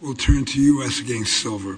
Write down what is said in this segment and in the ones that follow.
We'll turn to U.S. v. Silver.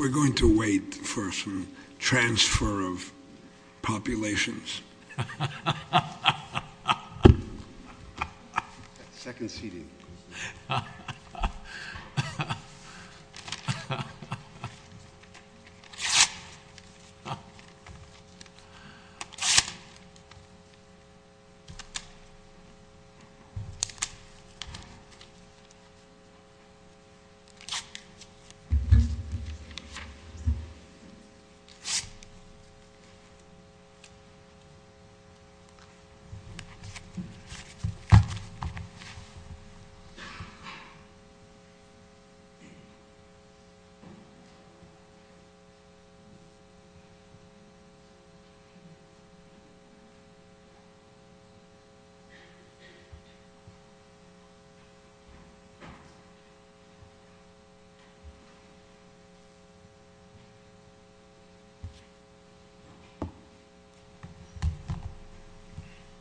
We're going to wait for some transfer of populations.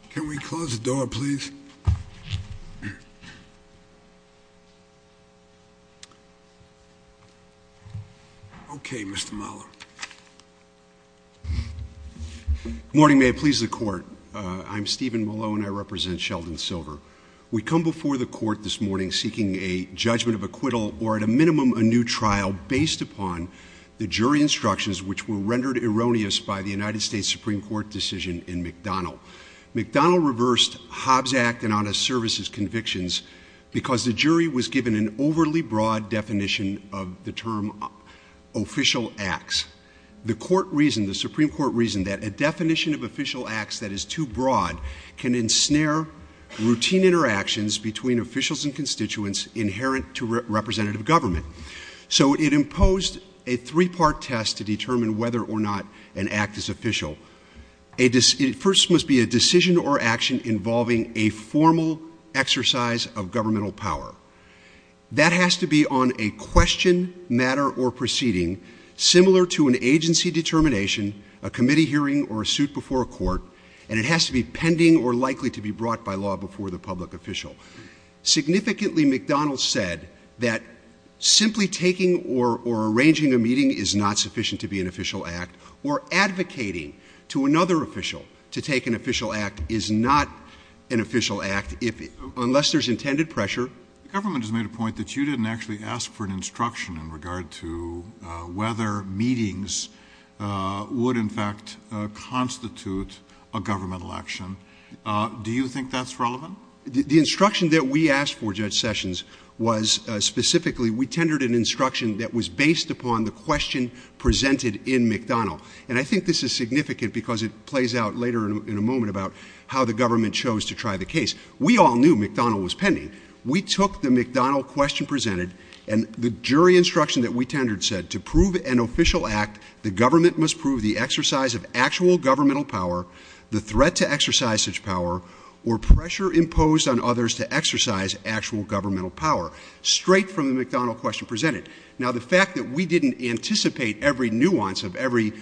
Can we close the door, please? Okay, Mr. Mollo. Good morning. May it please the Court. I'm Stephen Mollo, and I represent Sheldon Silver. We come before the Court this morning seeking a judgment of acquittal or, at a minimum, a new trial based upon the jury instructions which were rendered erroneous by the United States Supreme Court decision in McDonnell. McDonnell reversed Hobbs Act and Honest Services convictions because the jury was given an overly broad definition of the term official acts. The Supreme Court reasoned that a definition of official acts that is too broad can ensnare routine interactions between officials and constituents inherent to representative government. So it imposed a three-part test to determine whether or not an act is official. It first must be a decision or action involving a formal exercise of governmental power. That has to be on a question, matter, or proceeding similar to an agency determination, a committee hearing, or a suit before a court, and it has to be pending or likely to be brought by law before the public official. Significantly, McDonnell said that simply taking or arranging a meeting is not sufficient to be an official act or advocating to another official to take an official act is not an official act unless there's intended pressure. The government has made a point that you didn't actually ask for an instruction in regard to whether meetings would, in fact, constitute a governmental action. Do you think that's relevant? The instruction that we asked for, Judge Sessions, was specifically, we tendered an instruction that was based upon the question presented in McDonnell, and I think this is significant because it plays out later in a moment about how the government chose to try the case. We all knew McDonnell was pending. We took the McDonnell question presented, and the jury instruction that we tendered said, to prove an official act, the government must prove the exercise of actual governmental power, the threat to exercise such power, or pressure imposed on others to exercise actual governmental power, straight from the McDonnell question presented. Now, the fact that we didn't anticipate every nuance of every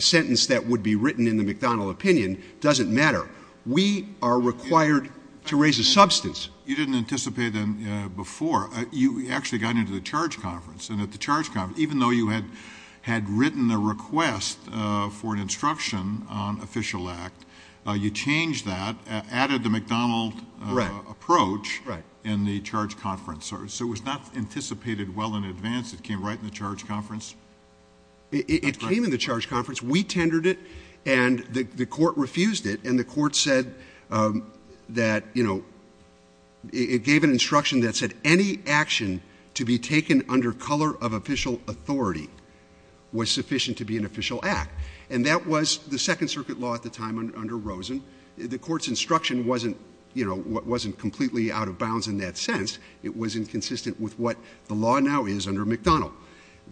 sentence that would be written in the McDonnell opinion doesn't matter. We are required to raise a substance. You didn't anticipate them before. You actually got into the charge conference, and at the charge conference, even though you had written a request for an instruction on official act, you changed that, added the McDonnell approach in the charge conference. So it was not anticipated well in advance. It came right in the charge conference? It came in the charge conference. We tendered it, and the court refused it, and the court said that, you know, it gave an instruction that said, any action to be taken under color of official authority was sufficient to be an official act, and that was the Second Circuit law at the time under Rosen. The court's instruction wasn't, you know, wasn't completely out of bounds in that sense. It wasn't consistent with what the law now is under McDonnell.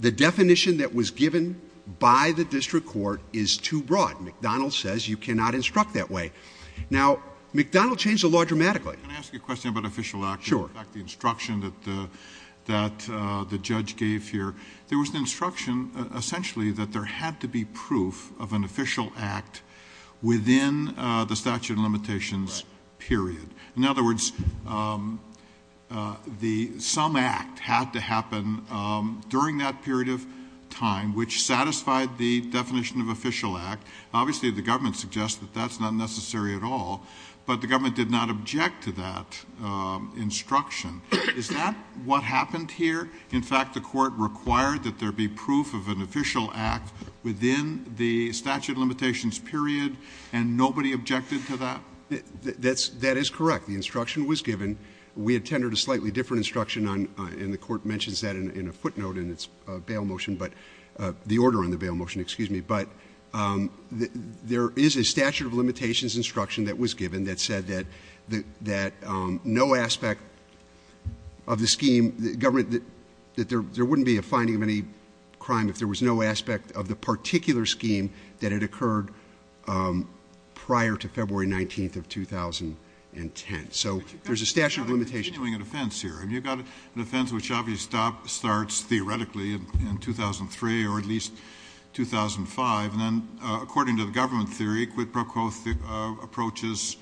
The definition that was given by the district court is too broad. McDonnell says you cannot instruct that way. Now, McDonnell changed the law dramatically. Can I ask you a question about official act? Sure. The instruction that the judge gave here, there was an instruction essentially that there had to be proof of an official act within the statute of limitations period. In other words, some act had to happen during that period of time, which satisfied the definition of official act. Obviously, the government suggests that that's not necessary at all, but the government did not object to that instruction. Is that what happened here? In fact, the court required that there be proof of an official act within the statute of limitations period, and nobody objected to that? That is correct. The instruction was given. We attended a slightly different instruction, and the court mentions that in a footnote in its bail motion, but the order on the bail motion, excuse me. But there is a statute of limitations instruction that was given that said that no aspect of the scheme, that there wouldn't be a finding of any crime if there was no aspect of the particular scheme that had occurred prior to February 19th of 2010. Okay. So there's a statute of limitations. You've got an offense here, and you've got an offense which obviously starts theoretically in 2003 or at least 2005, and then according to the government theory, it approaches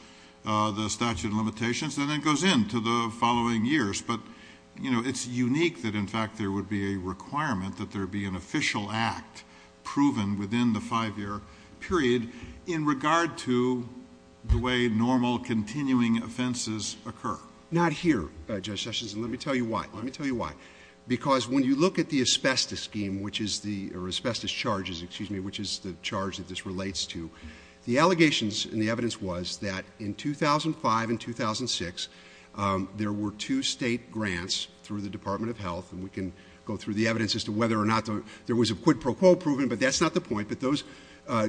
the statute of limitations and then goes into the following years. But, you know, it's unique that in fact there would be a requirement that there be an official act proven within the five-year period in regard to the way normal continuing offenses occur. Not here, Judge Sessions, and let me tell you why. Let me tell you why. Because when you look at the asbestos scheme, which is the or asbestos charges, excuse me, which is the charge that this relates to, the allegations and the evidence was that in 2005 and 2006, there were two state grants through the Department of Health, and we can go through the evidence as to whether or not there was a quid pro quo proven, but that's not the point, but those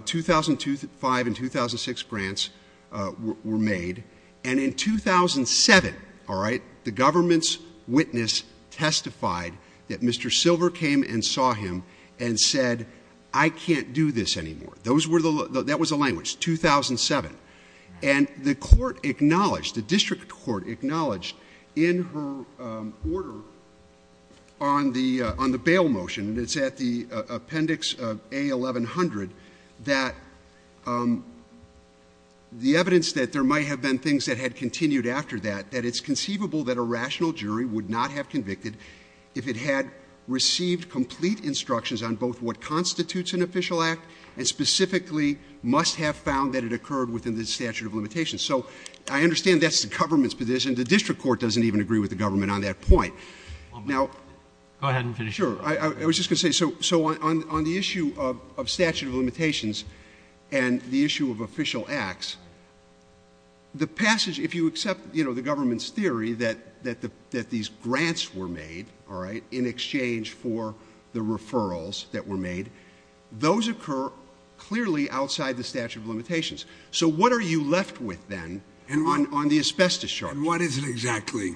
2005 and 2006 grants were made. And in 2007, all right, the government's witness testified that Mr. Silver came and saw him and said, I can't do this anymore. That was the language, 2007. And the court acknowledged, the district court acknowledged in her order on the bail motion that's at the appendix of A1100 that the evidence that there might have been things that had continued after that, that it's conceivable that a rational jury would not have convicted if it had received complete instructions on both what constitutes an official act and specifically must have found that it occurred within the statute of limitations. So I understand that's the government's position. The district court doesn't even agree with the government on that point. Now, I was just going to say, so on the issue of statute of limitations and the issue of official acts, the passage, if you accept, you know, the government's theory that these grants were made, all right, in exchange for the referrals that were made, those occur clearly outside the statute of limitations. So what are you left with then on the asbestos charge? And what is it exactly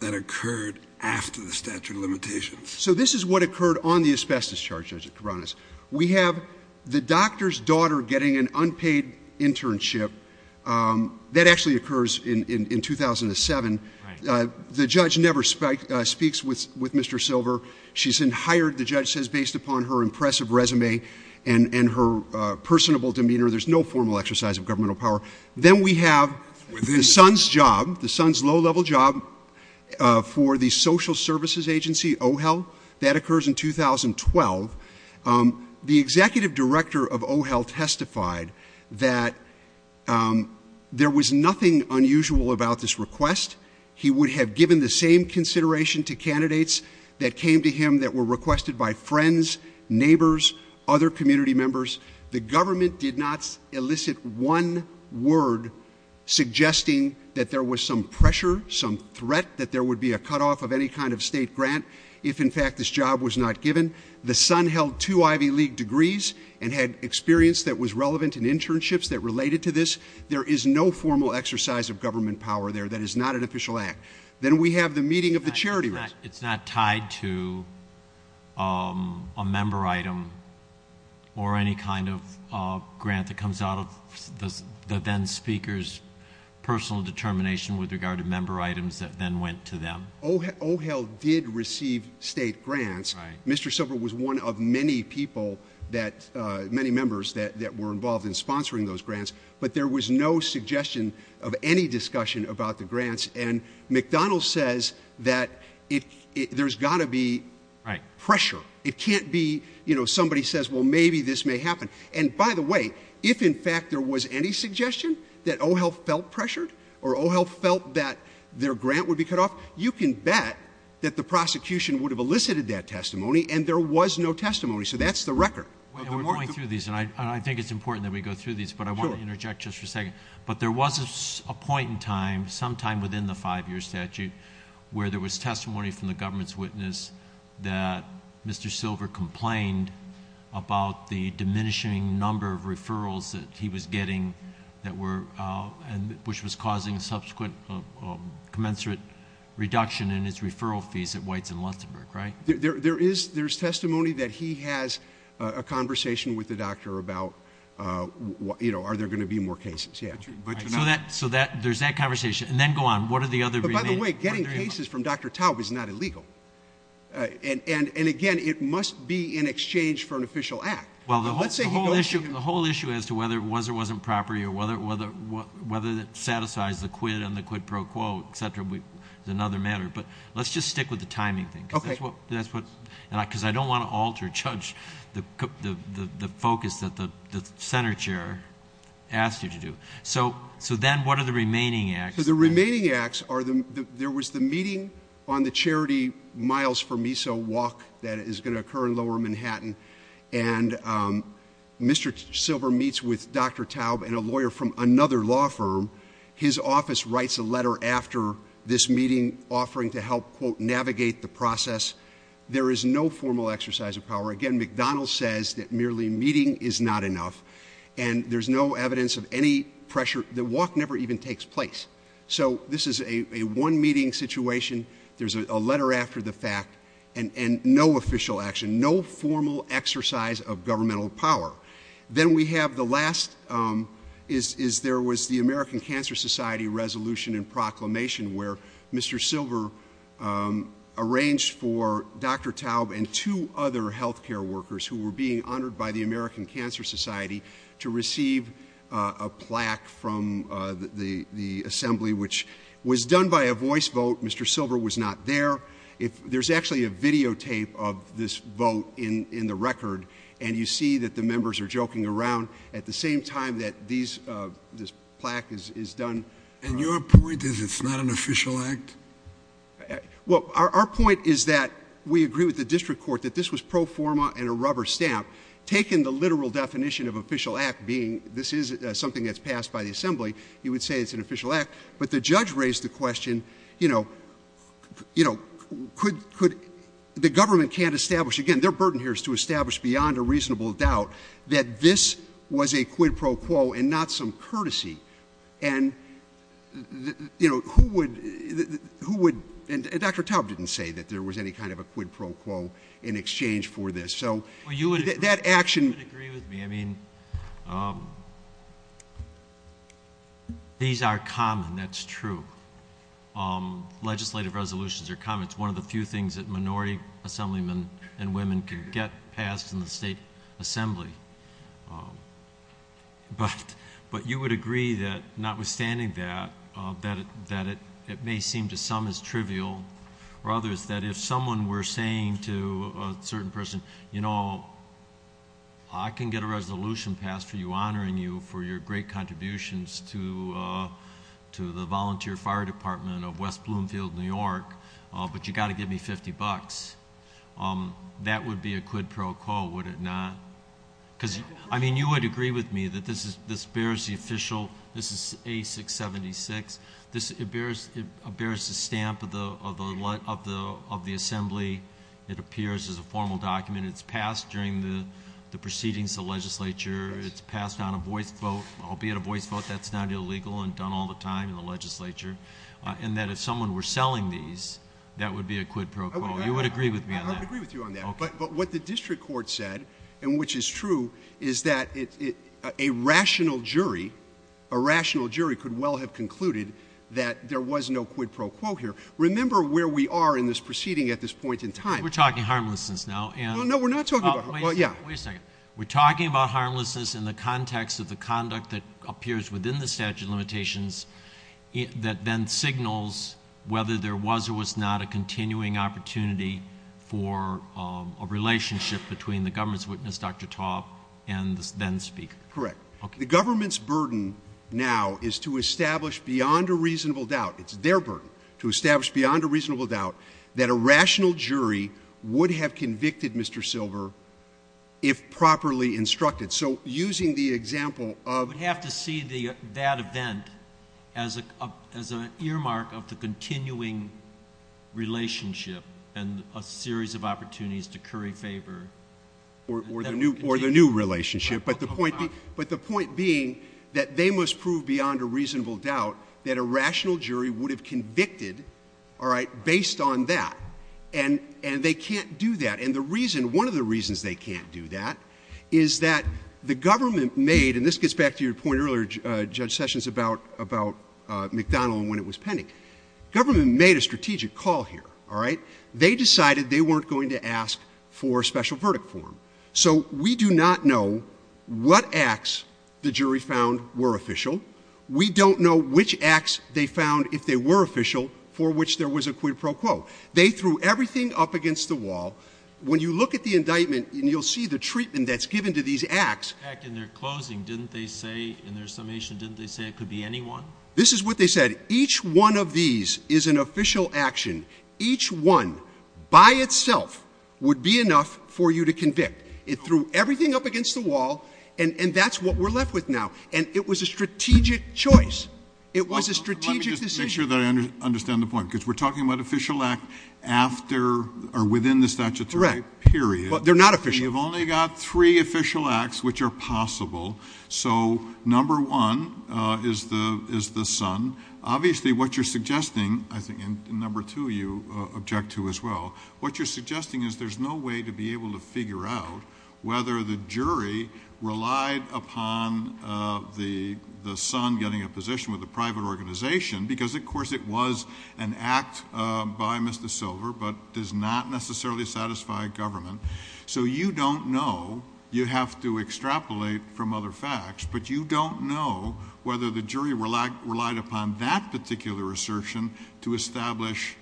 that occurred after the statute of limitations? So this is what occurred on the asbestos charges, to be honest. We have the doctor's daughter getting an unpaid internship. That actually occurs in 2007. The judge never speaks with Mr. Silver. She's been hired, the judge says, based upon her impressive resume and her personable demeanor. There's no formal exercise of governmental power. Then we have the son's job, the son's low-level job for the social services agency, OHEL. That occurs in 2012. The executive director of OHEL testified that there was nothing unusual about this request. He would have given the same consideration to candidates that came to him that were requested by friends, neighbors, other community members. The government did not elicit one word suggesting that there was some pressure, some threat, that there would be a cutoff of any kind of state grant if, in fact, this job was not given. The son held two Ivy League degrees and had experience that was relevant in internships that related to this. There is no formal exercise of government power there. That is not an official act. Then we have the meeting of the charity. It's not tied to a member item or any kind of grant that comes out of the then speaker's personal determination with regard to member items that then went to them. OHEL did receive state grants. Mr. Silver was one of many people, many members that were involved in sponsoring those grants, but there was no suggestion of any discussion about the grants. And McDonald's says that there's got to be pressure. It can't be, you know, somebody says, well, maybe this may happen. And, by the way, if, in fact, there was any suggestion that OHEL felt pressured or OHEL felt that their grant would be cut off, you can bet that the prosecution would have elicited that testimony, and there was no testimony. So that's the record. We're going through these, and I think it's important that we go through these. But I want to interject just for a second. But there was a point in time, sometime within the five-year statute, where there was testimony from the government's witness that Mr. Silver complained about the diminishing number of referrals that he was getting, which was causing subsequent commensurate reduction in its referral fees at White's and Luxembourg, right? There is testimony that he has a conversation with the doctor about, you know, are there going to be more cases. So there's that conversation. And then go on. What are the other reasons? By the way, getting cases from Dr. Tao is not illegal. And, again, it must be in exchange for an official act. Well, the whole issue as to whether it was or wasn't property or whether it satisfied the quid and the quid pro quo, et cetera, is another matter. But let's just stick with the timing thing. Because I don't want to alter, judge the focus that the senator asked her to do. So then what are the remaining acts? So the remaining acts are there was the meeting on the charity Miles for Me So Walk that is going to occur in Lower Manhattan. And Mr. Silver meets with Dr. Tao and a lawyer from another law firm. His office writes a letter after this meeting offering to help, quote, navigate the process. There is no formal exercise of power. Again, McDonald's says that merely meeting is not enough. And there's no evidence of any pressure. The walk never even takes place. So this is a one-meeting situation. There's a letter after the fact. And no official action. No formal exercise of governmental power. Then we have the last is there was the American Cancer Society resolution and proclamation where Mr. Silver arranged for Dr. Tao and two other health care workers who were being honored by the American Cancer Society to receive a plaque from the assembly, which was done by a voice vote. Mr. Silver was not there. There's actually a videotape of this vote in the record. And you see that the members are joking around at the same time that this plaque is done. And your point is it's not an official act? Well, our point is that we agree with the district court that this was pro forma and a rubber stamp. Taking the literal definition of official act being this is something that's passed by the assembly, you would say it's an official act. But the judge raised the question, you know, could the government can't establish, again, their burden here is to establish beyond a reasonable doubt that this was a quid pro quo and not some courtesy. And, you know, who would, and Dr. Tao didn't say that there was any kind of a quid pro quo in exchange for this. I agree with you. I mean, these are common, that's true. Legislative resolutions are common. It's one of the few things that minority assemblymen and women get passed in the state assembly. But you would agree that notwithstanding that, that it may seem to some as trivial, that if someone were saying to a certain person, you know, I can get a resolution passed for you, honoring you for your great contributions to the volunteer fire department of West Bloomfield, New York, but you've got to give me 50 bucks, that would be a quid pro quo, would it not? Because, I mean, you would agree with me that this bears the official, this is 8676, this bears the stamp of the assembly. It appears as a formal document. It's passed during the proceedings of the legislature. It's passed on a voice vote, albeit a voice vote, that's not illegal and done all the time in the legislature, and that if someone were selling these, that would be a quid pro quo. You would agree with me on that. I would agree with you on that. But what the district court said, and which is true, is that a rational jury, a rational jury could well have concluded that there was no quid pro quo here. Remember where we are in this proceeding at this point in time. We're talking harmlessness now. No, no, we're not talking about that. Wait a second. We're talking about harmlessness in the context of the conduct that appears within the statute of limitations that then signals whether there was or was not a continuing opportunity for a relationship between the government's witness, Dr. Taub, and Ben Spiegel. Correct. The government's burden now is to establish beyond a reasonable doubt, it's their burden, to establish beyond a reasonable doubt that a rational jury would have convicted Mr. Silver if properly instructed. So using the example of — We have to see that event as an earmark of the continuing relationship and a series of opportunities to curry favor. Or the new relationship. But the point being that they must prove beyond a reasonable doubt that a rational jury would have convicted, all right, based on that. And they can't do that. And the reason, one of the reasons they can't do that is that the government made, and this gets back to your point earlier, Judge Sessions, about McDonnell and when it was pending. The government made a strategic call here, all right. They decided they weren't going to ask for a special verdict for him. So we do not know what acts the jury found were official. We don't know which acts they found, if they were official, for which there was a quid pro quo. They threw everything up against the wall. When you look at the indictment and you'll see the treatment that's given to these acts. In their closing, didn't they say, in their summation, didn't they say it could be anyone? This is what they said. Each one of these is an official action. Each one, by itself, would be enough for you to convict. It threw everything up against the wall, and that's what we're left with now. And it was a strategic choice. It was a strategic decision. Let me just make sure that I understand the point, because we're talking about official acts after or within the statutory period. But they're not official. You've only got three official acts which are possible. So number one is the son. Obviously, what you're suggesting, I think, and number two you object to as well, what you're suggesting is there's no way to be able to figure out whether the jury relied upon the son getting a position with a private organization, because, of course, it was an act by Mr. Silver but does not necessarily satisfy government. So you don't know. You have to extrapolate from other facts. But you don't know whether the jury relied upon that particular assertion to establish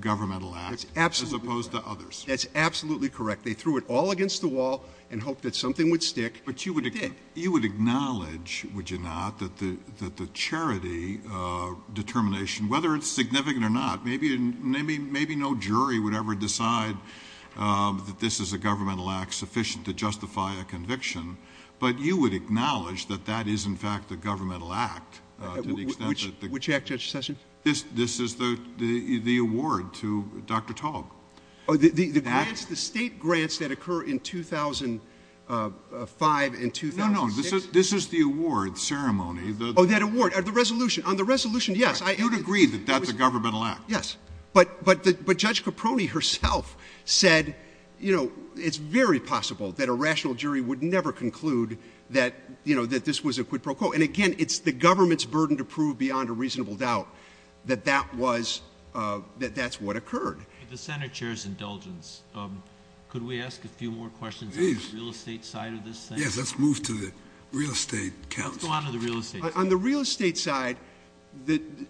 governmental acts as opposed to others. That's absolutely correct. They threw it all against the wall and hoped that something would stick. But you would acknowledge, would you not, that the charity determination, whether it's significant or not, maybe no jury would ever decide that this is a governmental act sufficient to justify a conviction. But you would acknowledge that that is, in fact, a governmental act. Which act, Justice Sessions? This is the award to Dr. Tall. The state grants that occur in 2005 and 2006? No, no, this is the award ceremony. Oh, that award, the resolution. On the resolution, yes. You would agree that that's a governmental act. Yes. But Judge Caproni herself said, you know, it's very possible that a rational jury would never conclude that this was a quid pro quo. And, again, it's the government's burden to prove beyond a reasonable doubt that that's what occurred. The Senate chair's indulgence. Could we ask a few more questions on the real estate side of this? Yes, let's move to the real estate. I'll go on to the real estate. On the real estate side,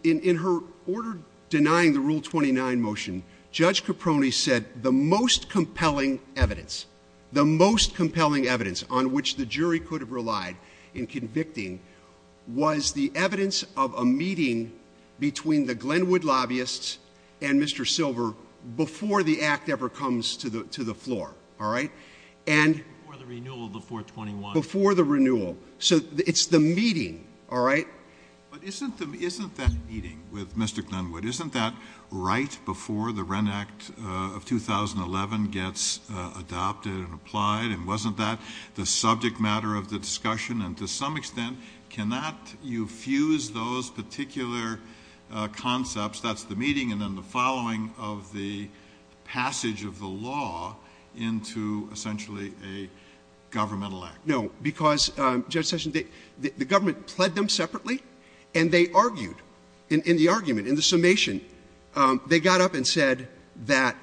in her order denying the Rule 29 motion, Judge Caproni said the most compelling evidence, the most compelling evidence on which the jury could have relied in convicting was the evidence of a meeting between the Glenwood lobbyists and Mr. Silver before the act ever comes to the floor, all right? Before the renewal of the 421. Before the renewal. So it's the meeting, all right? But isn't that meeting with Mystic Glenwood, isn't that right before the Wren Act of 2011 gets adopted and applied? And wasn't that the subject matter of the discussion? And to some extent, cannot you fuse those particular concepts, that's the meeting, and then the following of the passage of the law into essentially a governmental act? No, because, Judge Sessions, the government pled them separately and they argued in the argument, in the summation, they got up and said that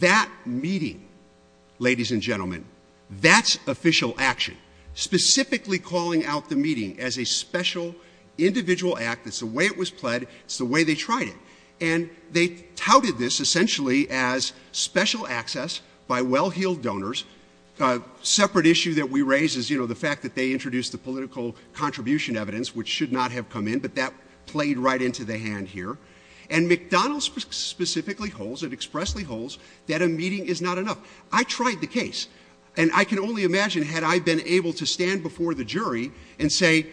that meeting, ladies and gentlemen, that's official action, specifically calling out the meeting as a special individual act, it's the way it was pled, it's the way they tried it. And they touted this essentially as special access by well-heeled donors. A separate issue that we raised is, you know, the fact that they introduced the political contribution evidence, which should not have come in, but that played right into the hand here. And McDonald's specifically holds, it expressly holds, that a meeting is not enough. I tried the case, and I can only imagine had I been able to stand before the jury and say,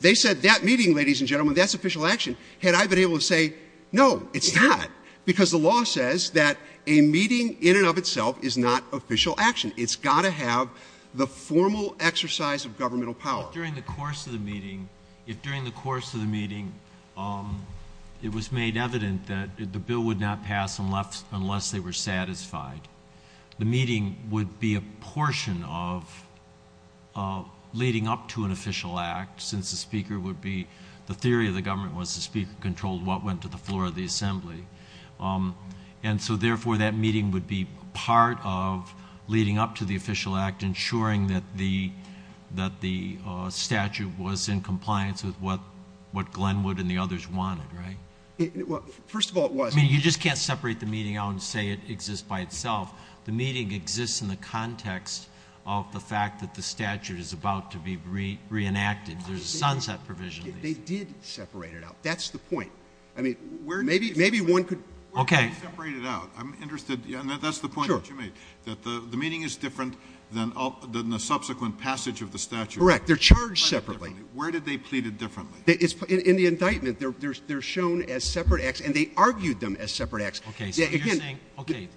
they said that meeting, ladies and gentlemen, that's official action. Had I been able to say, no, it's not, because the law says that a meeting in and of itself is not official action. It's got to have the formal exercise of governmental power. But during the course of the meeting, if during the course of the meeting it was made evident that the bill would not pass unless they were satisfied, the meeting would be a portion of leading up to an official act, since the speaker would be, the theory of the government was the speaker controlled what went to the floor of the assembly. And so, therefore, that meeting would be part of leading up to the official act, ensuring that the statute was in compliance with what Glenwood and the others wanted, right? Well, first of all, it was. I mean, you just can't separate the meeting out and say it exists by itself. The meeting exists in the context of the fact that the statute is about to be reenacted. There's a sunset provision. They did separate it out. That's the point. I mean, maybe one could. Okay. Separate it out. I'm interested, and that's the point that you make, that the meeting is different than the subsequent passage of the statute. Correct. They're charged separately. Where did they plead it differently? In the indictment, they're shown as separate acts, and they argued them as separate acts. Okay.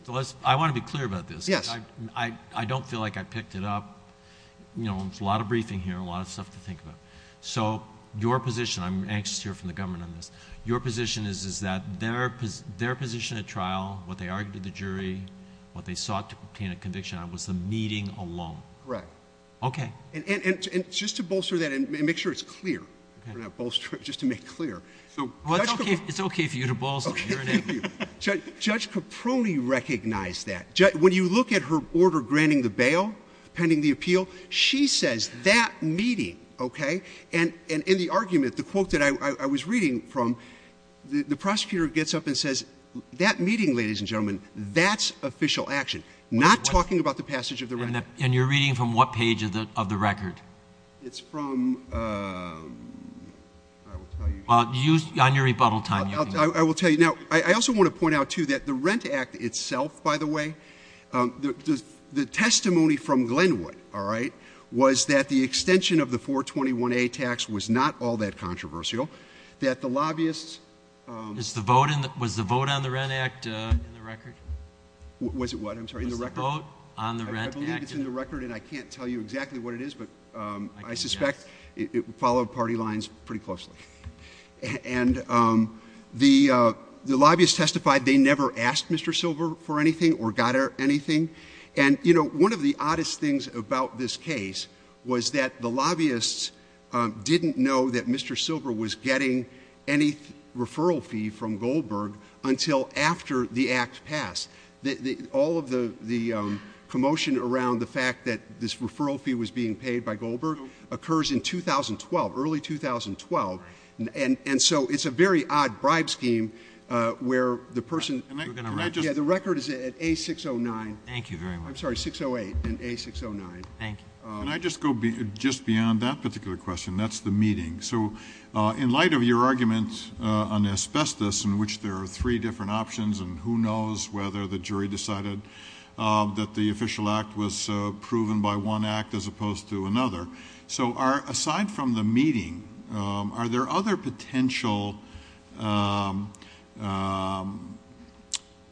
I want to be clear about this. Yes. I don't feel like I picked it up. You know, there's a lot of briefing here, a lot of stuff to think about. So your position, I'm anxious to hear from the government on this, your position is that their position at trial, what they argued to the jury, what they sought to obtain a conviction on, was the meeting alone. Right. Okay. And just to bolster that and make sure it's clear, just to make clear. It's okay for you to bolster. Okay. Thank you. Judge Caproni recognized that. When you look at her order granting the bail, pending the appeal, she says that meeting, okay, and in the argument, the quote that I was reading from, the prosecutor gets up and says, that meeting, ladies and gentlemen, that's official action. Not talking about the passage of the record. And you're reading from what page of the record? It's from, I will tell you. On your rebuttal time. I will tell you. Now, I also want to point out, too, that the Rent Act itself, by the way, the testimony from Glenwood, all right, was that the extension of the 421A tax was not all that controversial, that the lobbyists. Was the vote on the Rent Act in the record? Was it what? I'm sorry. I believe it's in the record. Vote on the Rent Act. I believe it's in the record, and I can't tell you exactly what it is, but I suspect it followed party lines pretty closely. And the lobbyists testified they never asked Mr. Silver for anything or got anything. And, you know, one of the oddest things about this case was that the lobbyists didn't know that Mr. Silver was getting any referral fee from Goldberg until after the act passed. All of the commotion around the fact that this referral fee was being paid by Goldberg occurs in 2012, early 2012. And so it's a very odd bribe scheme where the person. The record is at A609. Thank you very much. I'm sorry, 608 and A609. Thank you. Can I just go just beyond that particular question? That's the meeting. So in light of your arguments on asbestos in which there are three different options and who knows whether the jury decided that the official act was proven by one act as opposed to another. So aside from the meeting, are there other potential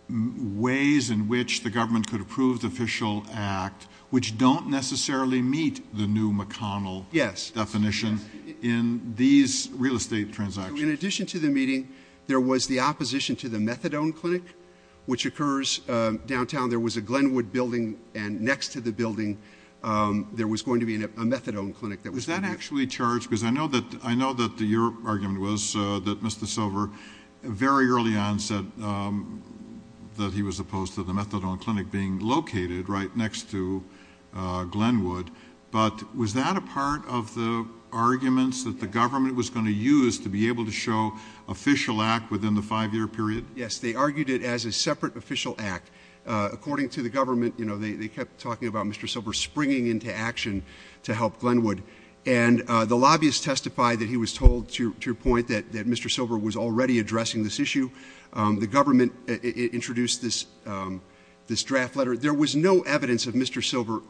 ways in which the government could approve the official act, which don't necessarily meet the new McConnell definition in these real estate transactions? In addition to the meeting, there was the opposition to the methadone clinic, which occurs downtown. There was a Glenwood building. And next to the building, there was going to be a methadone clinic. Was that actually charged? Because I know that your argument was that Mr. Silver very early on said that he was opposed to the methadone clinic being located right next to Glenwood. But was that a part of the arguments that the government was going to use to be able to show official act within the five-year period? Yes, they argued it as a separate official act. According to the government, they kept talking about Mr. Silver springing into action to help Glenwood. And the lobbyists testified that he was told, to your point, that Mr. Silver was already addressing this issue. The government introduced this draft letter. There was no evidence of Mr. Silver,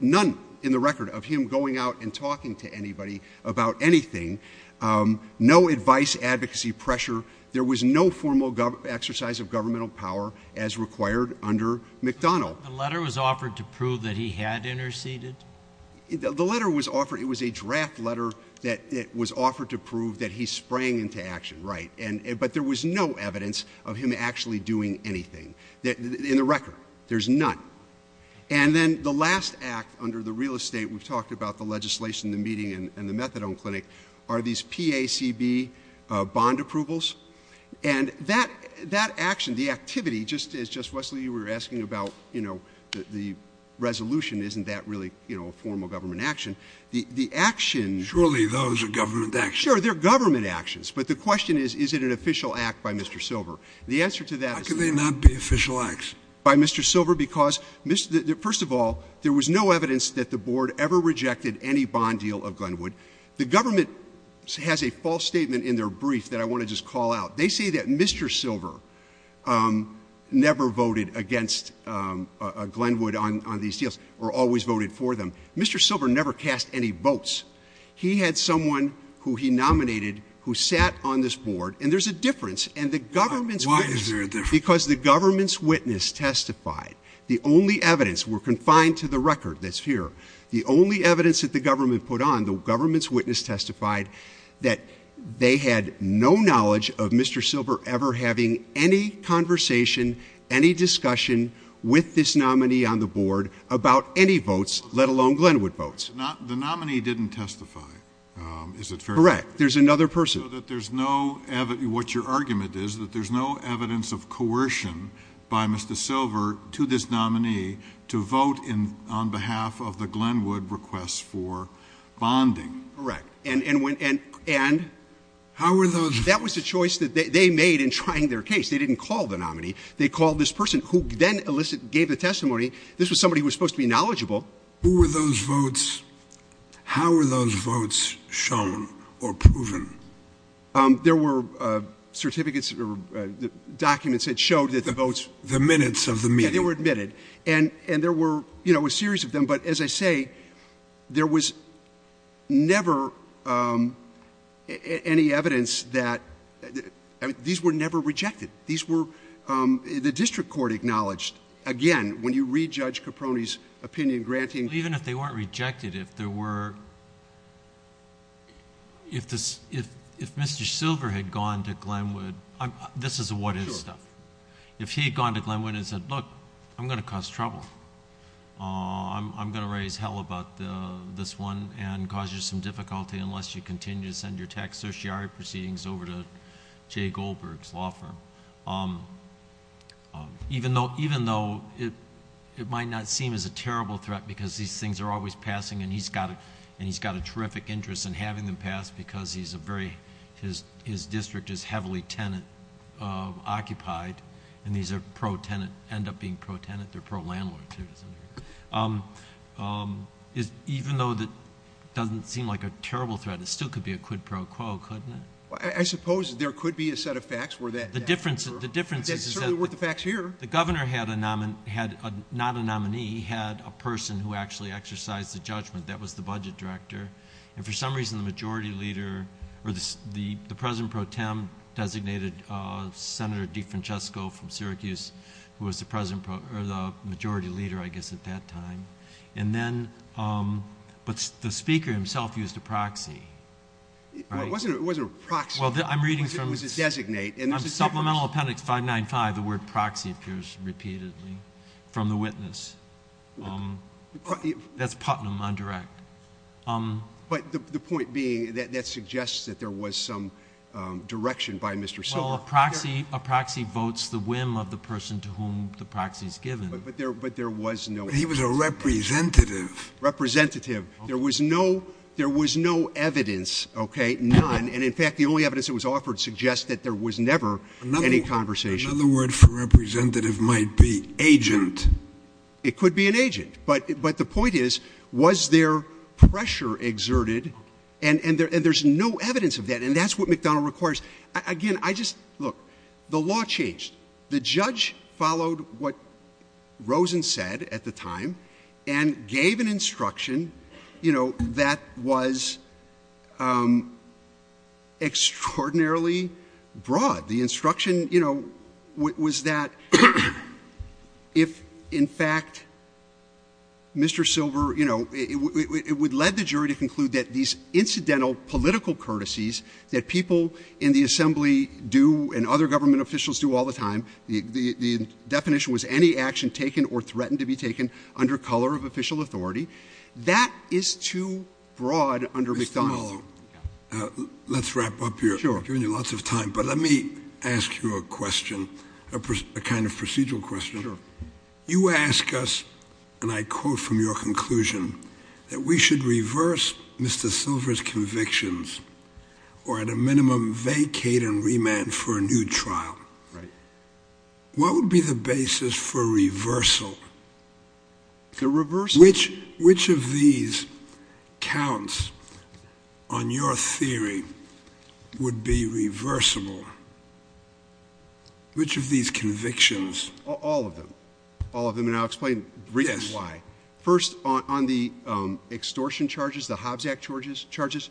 none in the record, of him going out and talking to anybody about anything. No advice, advocacy, pressure. There was no formal exercise of governmental power as required under McDonnell. The letter was offered to prove that he had interceded? The letter was offered. It was a draft letter that was offered to prove that he sprang into action, right. But there was no evidence of him actually doing anything in the record. There's none. And then the last act under the real estate, we've talked about the legislation, the meeting, and the methadone clinic, are these PACB bond approvals. And that action, the activity, just as, Wesley, you were asking about, you know, the resolution, isn't that really, you know, a formal government action? The actions. Surely those are government actions. Sure, they're government actions. But the question is, is it an official act by Mr. Silver? The answer to that is. How can they not be official acts? By Mr. Silver, because, first of all, there was no evidence that the board ever rejected any bond deal of Glenwood. The government has a false statement in their brief that I want to just call out. They say that Mr. Silver never voted against Glenwood on these deals, or always voted for them. Mr. Silver never cast any votes. He had someone who he nominated who sat on this board, and there's a difference. And the government's witness. Why is there a difference? Because the government's witness testified. The only evidence, we're confined to the record that's here. The only evidence that the government put on, the government's witness testified that they had no knowledge of Mr. Silver ever having any conversation, any discussion with this nominee on the board about any votes, let alone Glenwood votes. The nominee didn't testify. Is it fair to say? Correct. There's another person. What your argument is that there's no evidence of coercion by Mr. Silver to this nominee to vote on behalf of the Glenwood request for bonding. Correct. And that was the choice that they made in trying their case. They didn't call the nominee. They called this person who then gave the testimony. This was somebody who was supposed to be knowledgeable. Who were those votes? How were those votes shown or proven? There were certificates or documents that showed that the votes. The minutes of the meeting. They were admitted. And there were a series of them. But as I say, there was never any evidence that these were never rejected. These were, the district court acknowledged, again, when you re-judge Caproni's opinion granting. Even if they weren't rejected, if there were, if Mr. Silver had gone to Glenwood, this is a what-if step. If he had gone to Glenwood and said, look, I'm going to cause trouble. I'm going to raise hell about this one and cause you some difficulty unless you continue to send your tax-society proceedings over to Jay Goldberg's law firm. Even though it might not seem as a terrible threat because these things are always passing. And he's got a terrific interest in having them pass because he's a very, his district is heavily tenant-occupied. And these are pro-tenant, end up being pro-tenant. They're pro-landlord. Even though it doesn't seem like a terrible threat, it still could be a quid pro quo, couldn't it? I suppose there could be a set of facts where that. The difference is that the governor had not a nominee. He had a person who actually exercised the judgment. That was the budget director. And for some reason, the majority leader, or the president pro tem designated Senator DeFrancisco from Syracuse, who was the majority leader, I guess, at that time. And then, but the speaker himself used a proxy. It wasn't a proxy. It was a designate. Supplemental Appendix 595, the word proxy appears repeatedly from the witness. That's Putnam on direct. But the point being that that suggests that there was some direction by Mr. Syracuse. Well, a proxy votes the whim of the person to whom the proxy is given. But there was no. He was a representative. Representative. There was no evidence, okay, none. And, in fact, the only evidence that was offered suggests that there was never any conversation. Another word for representative might be agent. It could be an agent. But the point is, was there pressure exerted? And there's no evidence of that. And that's what McDonnell requires. Again, I just look. The law changed. The judge followed what Rosen said at the time and gave an instruction, you know, that was extraordinarily broad. The instruction, you know, was that if, in fact, Mr. Silver, you know, it would lead the jury to conclude that these incidental political courtesies that people in the assembly do and other government officials do all the time, the definition was any action taken or threatened to be taken under color of official authority. That is too broad under McDonnell. Let's wrap up here. You're giving me lots of time, but let me ask you a question, a kind of procedural question. You ask us, and I quote from your conclusion, that we should reverse Mr. Silver's convictions or at a minimum vacate and remand for a new trial. Which of these counts on your theory would be reversible? Which of these convictions? All of them. All of them, and I'll explain briefly why. First, on the extortion charges, the Hobbs Act charges,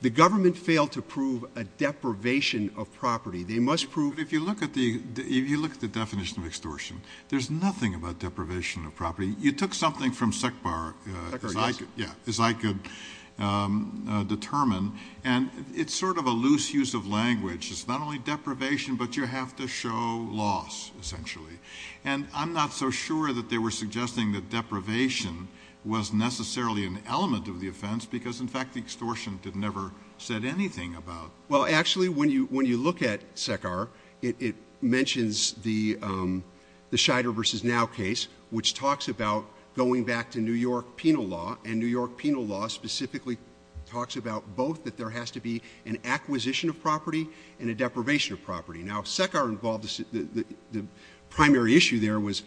the government failed to prove a deprivation of property. If you look at the definition of extortion, there's nothing about deprivation of property. You took something from Sec Bar, as I could determine, and it's sort of a loose use of language. It's not only deprivation, but you have to show loss, essentially. And I'm not so sure that they were suggesting that deprivation was necessarily an element of the offense, because, in fact, extortion never said anything about it. Well, actually, when you look at Sec Bar, it mentions the Scheider v. Now case, which talks about going back to New York penal law, and New York penal law specifically talks about both that there has to be an acquisition of property and a deprivation of property. Now, Sec Bar involved, the primary issue there was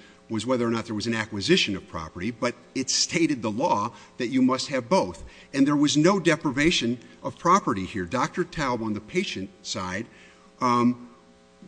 whether or not there was an acquisition of property, but it stated the law that you must have both. And there was no deprivation of property here. Dr. Taub on the patient side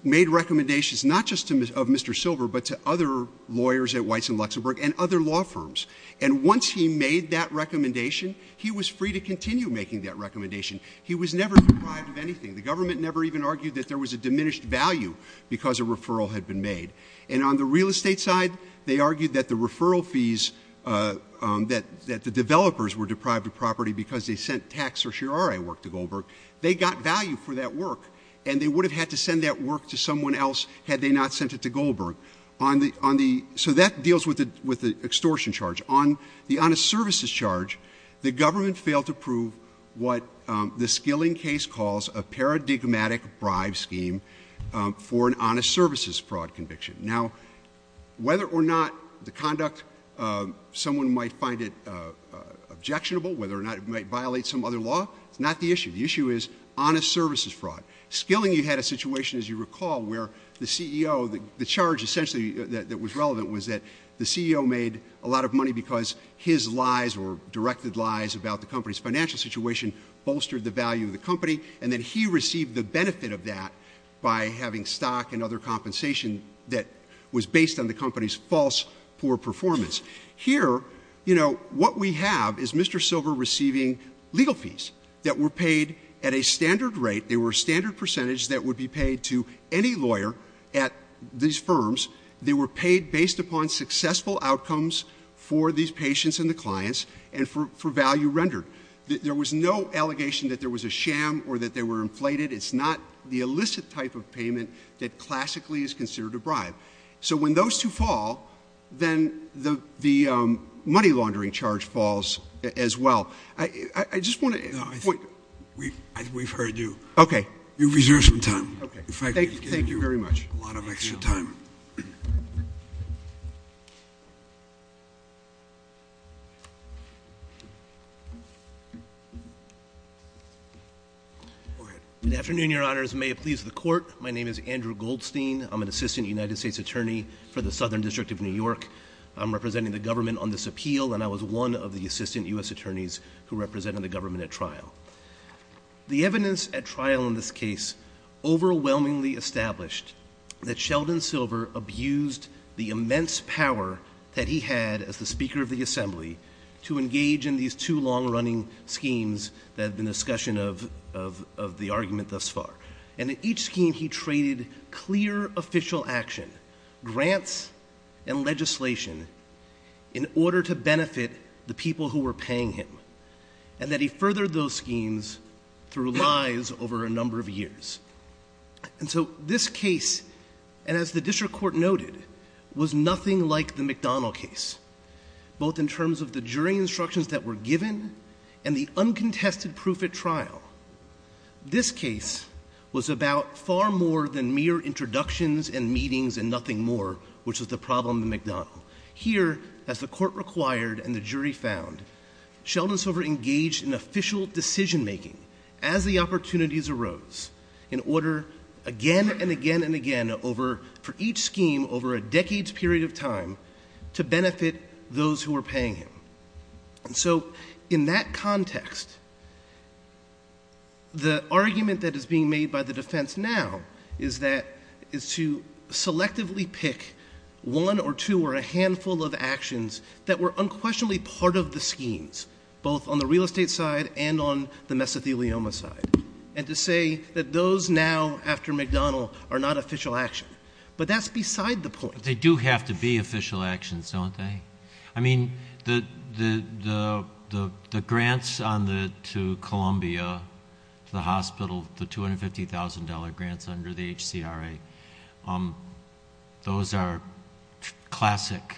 made recommendations not just of Mr. Silver, but to other lawyers at Weitz and Luxembourg and other law firms. And once he made that recommendation, he was free to continue making that recommendation. He was never deprived of anything. The government never even argued that there was a diminished value because a referral had been made. And on the real estate side, they argued that the referral fees that the developers were deprived of property because they sent tax or cheriori work to Goldberg, they got value for that work, and they would have had to send that work to someone else had they not sent it to Goldberg. So that deals with the extortion charge. On the honest services charge, the government failed to prove what the Skilling case calls a paradigmatic bribe scheme for an honest services fraud conviction. Now, whether or not the conduct, someone might find it objectionable, whether or not it might violate some other law, not the issue. The issue is honest services fraud. Skilling had a situation, as you recall, where the CEO, the charge essentially that was relevant was that the CEO made a lot of money because his lies or directed lies about the company's financial situation bolstered the value of the company, and that he received the benefit of that by having stock and other compensation that was based on the company's false poor performance. Here, you know, what we have is Mr. Silver receiving legal fees that were paid at a standard rate. They were a standard percentage that would be paid to any lawyer at these firms. They were paid based upon successful outcomes for these patients and the clients and for value rendered. There was no allegation that there was a sham or that they were inflated. It's not the illicit type of payment that classically is considered a bribe. So when those two fall, then the money laundering charge falls as well. I just want to point out. We've heard you. Okay. You've reserved some time. Thank you very much. A lot of extra time. Go ahead. Good afternoon, Your Honors. May it please the Court. My name is Andrew Goldstein. I'm an assistant United States attorney for the Southern District of New York. I'm representing the government on this appeal, and I was one of the assistant U.S. attorneys who represented the government at trial. The evidence at trial in this case overwhelmingly established that Sheldon Silver abused the immense power that he had as the Speaker of the Assembly to engage in these two long-running schemes that have been the discussion of the argument thus far. And in each scheme, he traded clear official action, grants, and legislation in order to benefit the people who were paying him, and that he furthered those schemes through lies over a number of years. And so this case, as the district court noted, was nothing like the McDonald case, both in terms of the jury instructions that were given and the uncontested proof at trial. This case was about far more than mere introductions and meetings and nothing more, which is the problem of McDonald. Here, as the court required and the jury found, Sheldon Silver engaged in official decision-making as the opportunities arose, in order again and again and again for each scheme over a decade's period of time to benefit those who were paying him. And so in that context, the argument that is being made by the defense now is to selectively pick one or two or a handful of actions that were unquestionably part of the schemes, both on the real estate side and on the mesothelioma side, and to say that those now, after McDonald, are not official action. But that's beside the point. They do have to be official actions, don't they? I mean, the grants to Columbia, the hospital, the $250,000 grants under the HCRA, those are classic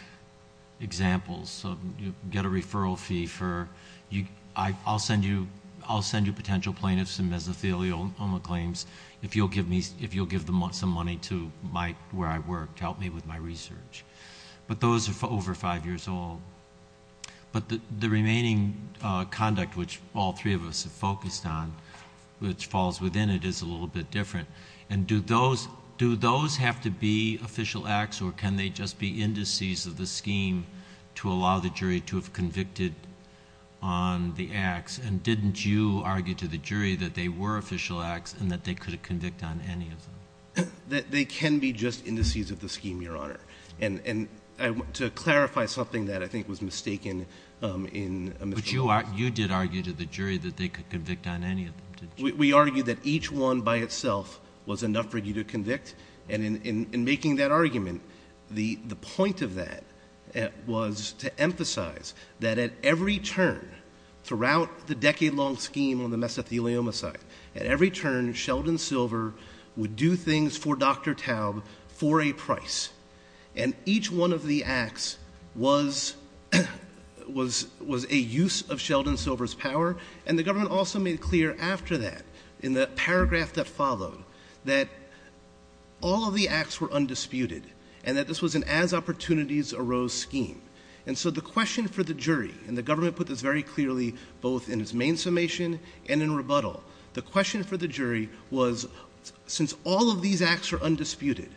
examples. So you get a referral fee for, I'll send you potential plaintiffs and mesothelioma claims if you'll give them some money to where I work to help me with my research. But those are over five years old. But the remaining conduct, which all three of us have focused on, which falls within it, is a little bit different. And do those have to be official acts, or can they just be indices of the scheme to allow the jury to have convicted on the acts? And didn't you argue to the jury that they were official acts and that they could have convicted on any of them? They can be just indices of the scheme, Your Honor. And to clarify something that I think was mistaken in the question. But you did argue to the jury that they could convict on any of them. We argued that each one by itself was enough for you to convict. And in making that argument, the point of that was to emphasize that at every turn, throughout the decade-long scheme on the mesothelioma side, at every turn, Sheldon Silver would do things for Dr. Towne for a price. And each one of the acts was a use of Sheldon Silver's power. And the government also made clear after that, in the paragraph that followed, that all of the acts were undisputed and that this was an as-opportunities-arose scheme. And so the question for the jury, and the government put this very clearly both in its main summation and in rebuttal, the question for the jury was, since all of these acts were undisputed,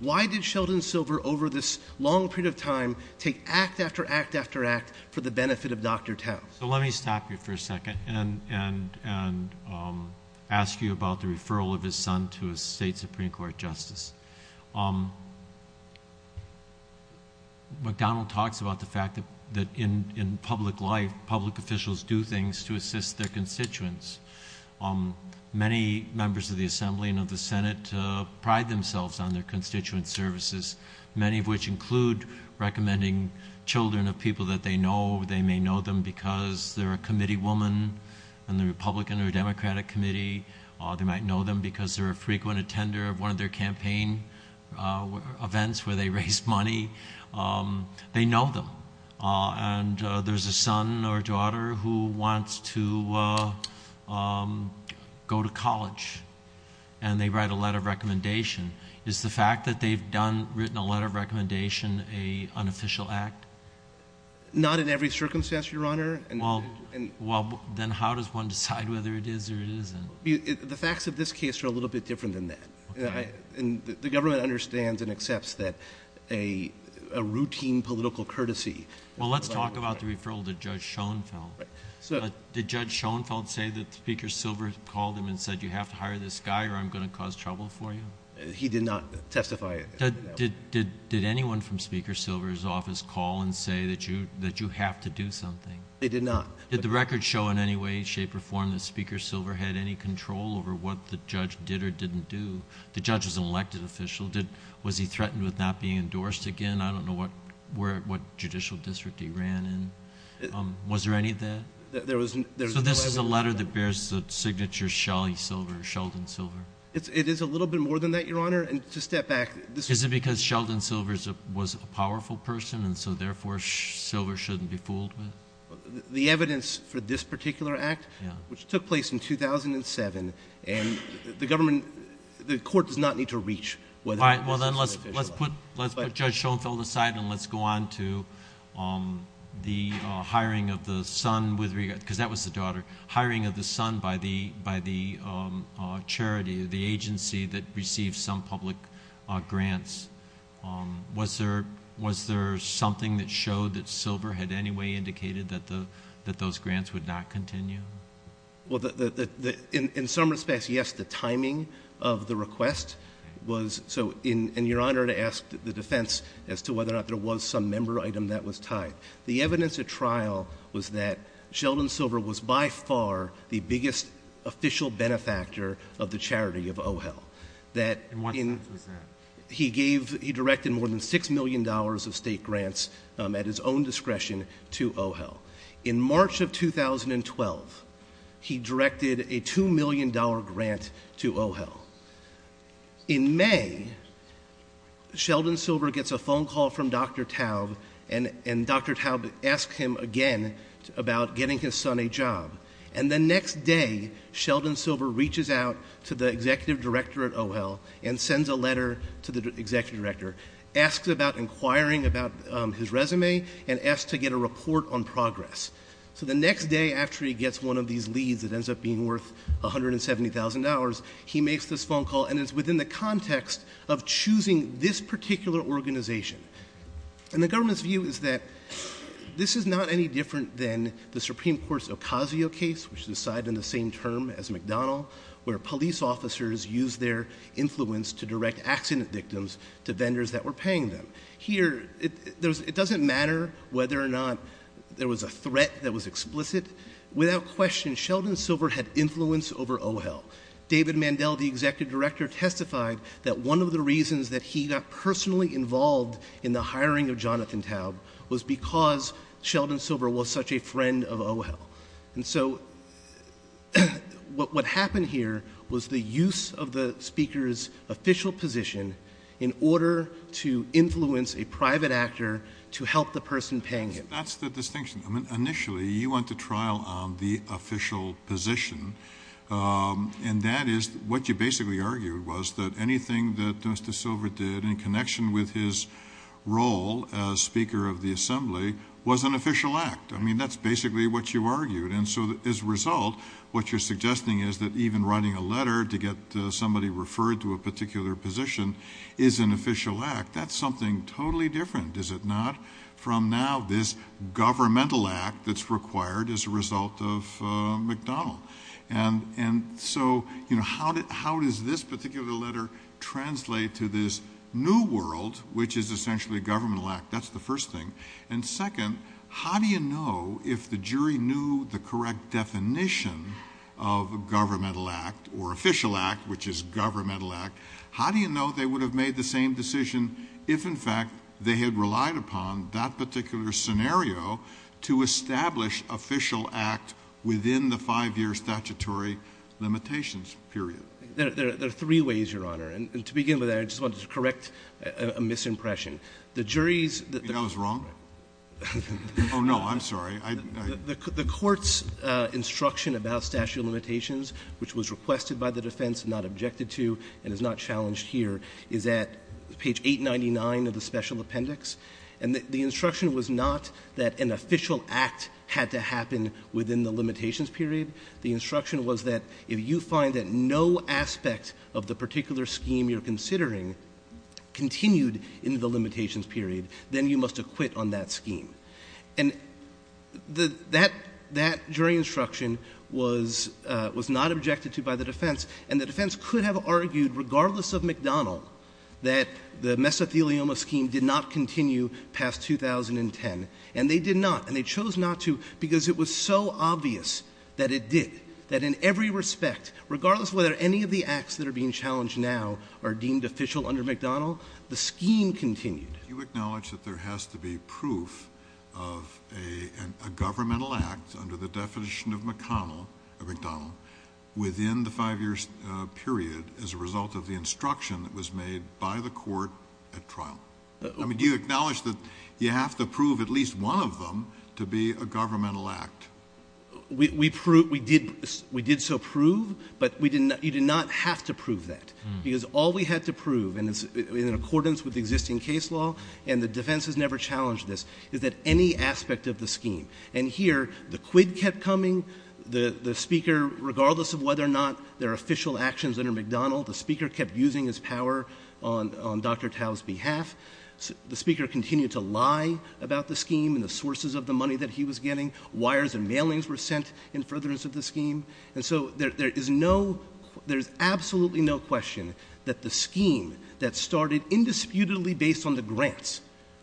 why did Sheldon Silver over this long period of time take act after act after act for the benefit of Dr. Towne? Let me stop you for a second and ask you about the referral of his son to a state Supreme Court justice. McDonald talks about the fact that in public life, public officials do things to assist their constituents. Many members of the Assembly and of the Senate pride themselves on their constituent services, many of which include recommending children of people that they know. They may know them because they're a committee woman on the Republican or Democratic committee. They might know them because they're a frequent attender of one of their campaign events where they raise money. They know them. And there's a son or daughter who wants to go to college, and they write a letter of recommendation. Is the fact that they've written a letter of recommendation an unofficial act? Not in every circumstance, Your Honor. Well, then how does one decide whether it is or isn't? The facts of this case are a little bit different than that. The government understands and accepts that a routine political courtesy. Well, let's talk about the referral to Judge Schoenfeld. Did Judge Schoenfeld say that Speaker Silver called him and said, you have to hire this guy or I'm going to cause trouble for you? He did not testify. Did anyone from Speaker Silver's office call and say that you have to do something? They did not. Did the record show in any way, shape, or form that Speaker Silver had any control over what the judge did or didn't do? The judge is an elected official. Was he threatened with not being endorsed again? I don't know what judicial district he ran in. Was there any of that? So this is the letter that bears the signature Shelly Silver, Sheldon Silver. It is a little bit more than that, Your Honor. And to step back. Is it because Sheldon Silver was a powerful person and so therefore Silver shouldn't be fooled? The evidence for this particular act, which took place in 2007, and the government, the court does not need to reach. Well, then let's put Judge Schoenfeld aside and let's go on to the hiring of the son, because that was the daughter, the hiring of the son by the charity, the agency that received some public grants. Was there something that showed that Silver had any way indicated that those grants would not continue? Well, in some respects, yes. The timing of the request was so, and Your Honor, to ask the defense as to whether or not there was some member item that was tied. The evidence at trial was that Sheldon Silver was by far the biggest official benefactor of the charity of OHEL. He directed more than $6 million of state grants at his own discretion to OHEL. In March of 2012, he directed a $2 million grant to OHEL. In May, Sheldon Silver gets a phone call from Dr. Taub, and Dr. Taub asks him again about getting his son a job. And the next day, Sheldon Silver reaches out to the executive director at OHEL and sends a letter to the executive director, asks about inquiring about his resume, and asks to get a report on progress. So the next day, after he gets one of these leads that ends up being worth $170,000, he makes this phone call, and it's within the context of choosing this particular organization. And the government's view is that this is not any different than the Supreme Court's Ocasio case, which was decided in the same term as McDonnell, where police officers used their influence to direct accident victims to vendors that were paying them. Here, it doesn't matter whether or not there was a threat that was explicit. Without question, Sheldon Silver had influence over OHEL. David Mandel, the executive director, testified that one of the reasons that he got personally involved in the hiring of Jonathan Taub was because Sheldon Silver was such a friend of OHEL. And so what happened here was the use of the speaker's official position in order to influence a private actor to help the person paying him. That's the distinction. Initially, you went to trial on the official position, and that is what you basically argued, was that anything that Mr. Silver did in connection with his role as Speaker of the Assembly was an official act. I mean, that's basically what you argued. And so as a result, what you're suggesting is that even writing a letter to get somebody referred to a particular position is an official act. That's something totally different, is it not, from now this governmental act that's required as a result of McDonnell. And so how does this particular letter translate to this new world, which is essentially a governmental act? That's the first thing. And second, how do you know if the jury knew the correct definition of governmental act or official act, which is governmental act, how do you know they would have made the same decision if, in fact, they had relied upon that particular scenario to establish official act within the five-year statutory limitations period? There are three ways, Your Honor, and to begin with, I just want to correct a misimpression. The jury's — You think I was wrong? Oh, no, I'm sorry. The Court's instruction about statutory limitations, which was requested by the defense, not objected to, and is not challenged here, is at page 899 of the special appendix. And the instruction was not that an official act had to happen within the limitations period. The instruction was that if you find that no aspect of the particular scheme you're considering continued in the limitations period, then you must acquit on that scheme. And that jury instruction was not objected to by the defense, and the defense could have argued, regardless of McDonnell, that the mesothelioma scheme did not continue past 2010. And they did not, and they chose not to because it was so obvious that it did, that in every respect, regardless of whether any of the acts that are being challenged now are deemed official under McDonnell, the scheme continued. Do you acknowledge that there has to be proof of a governmental act under the definition of McConnell, McDonnell, within the five-year period as a result of the instruction that was made by the Court at trial? Do you acknowledge that you have to prove at least one of them to be a governmental act? We did so prove, but you did not have to prove that, because all we had to prove, in accordance with existing case law, and the defense has never challenged this, is that any aspect of the scheme. And here, the quid kept coming. The Speaker, regardless of whether or not there are official actions under McDonnell, the Speaker kept using his power on Dr. Tao's behalf. The Speaker continued to lie about the scheme and the sources of the money that he was getting, wires and mailings were sent in furtherance of the scheme. And so there is no, there is absolutely no question that the scheme that started indisputably based on the grants,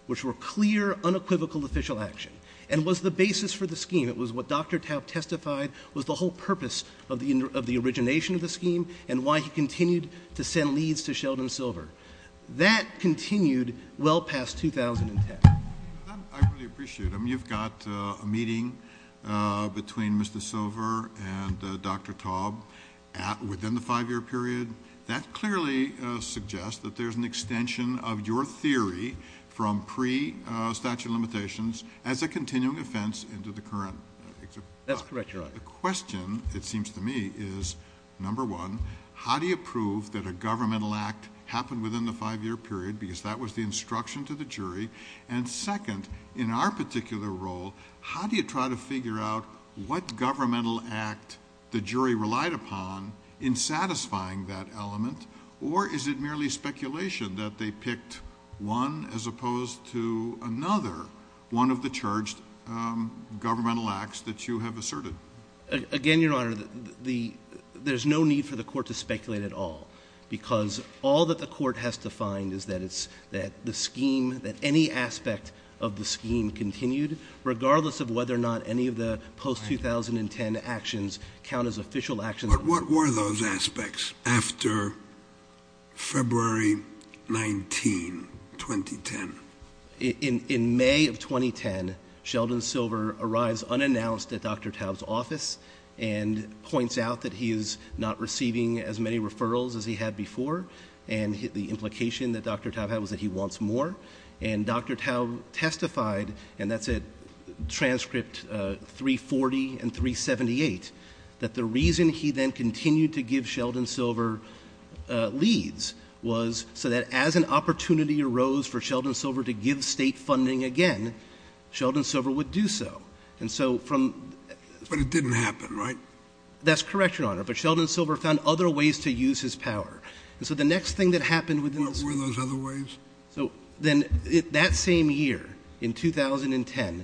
which were clear, unequivocal official action, and was the basis for the scheme, it was what Dr. Tao testified was the whole purpose of the origination of the scheme and why he continued to send leaves to Sheldon Silver. That continued well past 2010. I really appreciate them. You've got a meeting between Mr. Silver and Dr. Tao within the five-year period. That clearly suggests that there's an extension of your theory from pre-statute limitations as a continuing defense into the current. That's correct, Your Honor. The question, it seems to me, is, number one, how do you prove that a governmental act happened within the five-year period, because that was the instruction to the jury, and second, in our particular role, how do you try to figure out what governmental act the jury relied upon in satisfying that element, or is it merely speculation that they picked one as opposed to another, one of the charged governmental acts that you have asserted? Again, Your Honor, there's no need for the Court to speculate at all because all that the Court has to find is that the scheme, that any aspect of the scheme continued, regardless of whether or not any of the post-2010 actions count as official actions. But what were those aspects after February 19, 2010? In May of 2010, Sheldon Silver arrives unannounced at Dr. Tao's office and points out that he is not receiving as many referrals as he had before, and the implication that Dr. Tao had was that he wants more. And Dr. Tao testified, and that's at transcript 340 and 378, that the reason he then continued to give Sheldon Silver leads was so that as an opportunity arose for Sheldon Silver to give state funding again, Sheldon Silver would do so. But it didn't happen, right? That's correct, Your Honor. But Sheldon Silver found other ways to use his power. And so the next thing that happened within a week— What were those other ways? Then that same year, in 2010,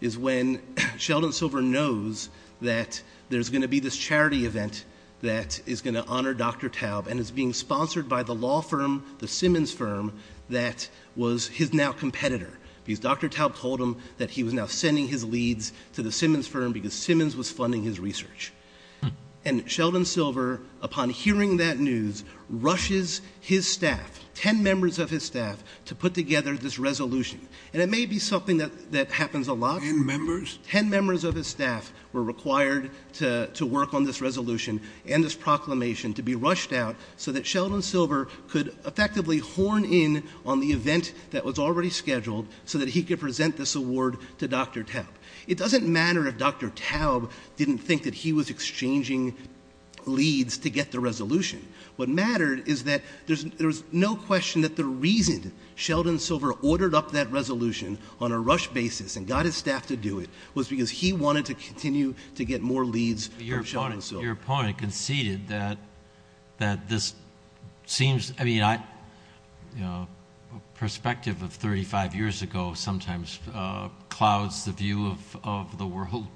is when Sheldon Silver knows that there's going to be this charity event that is going to honor Dr. Tao and is being sponsored by the law firm, the Simmons firm, that was his now competitor. Because Dr. Tao told him that he was now sending his leads to the Simmons firm because Simmons was funding his research. And Sheldon Silver, upon hearing that news, rushes his staff, ten members of his staff, to put together this resolution. And it may be something that happens a lot. Ten members? Ten members of his staff were required to work on this resolution and this proclamation to be rushed out so that Sheldon Silver could effectively horn in on the event that was already scheduled so that he could present this award to Dr. Tao. It doesn't matter if Dr. Tao didn't think that he was exchanging leads to get the resolution. What mattered is that there's no question that the reason Sheldon Silver ordered up that resolution on a rush basis and got his staff to do it was because he wanted to continue to get more leads from Sheldon Silver. Your opponent conceded that this seems, I mean, a perspective of 35 years ago sometimes clouds the view of the world.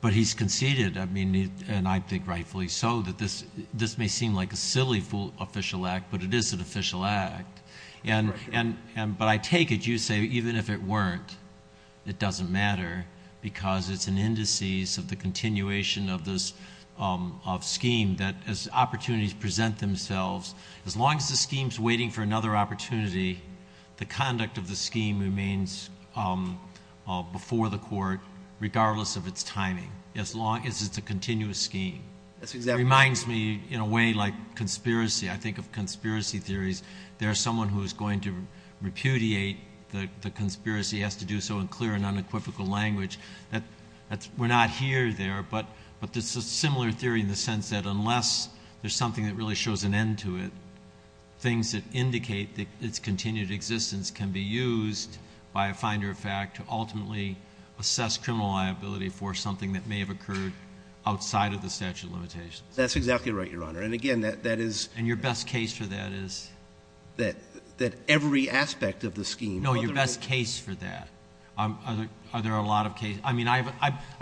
But he's conceded, and I think rightfully so, that this may seem like a silly official act, but it is an official act. But I take it you say even if it weren't, it doesn't matter because it's an indices of the continuation of this scheme that as opportunities present themselves, as long as the scheme's waiting for another opportunity, the conduct of the scheme remains before the court regardless of its timing, as long as it's a continuous scheme. That reminds me, in a way, like conspiracy. I think of conspiracy theories. There's someone who is going to repudiate the conspiracy, has to do so in clear and unequivocal language. We're not here or there, but it's a similar theory in the sense that unless there's something that really shows an end to it, things that indicate its continued existence can be used by a finder of fact to ultimately assess criminal liability for something that may have occurred outside of the statute of limitations. That's exactly right, Your Honor. And again, that is— And your best case for that is? That every aspect of the scheme— No, your best case for that. Are there a lot of cases? I mean, I've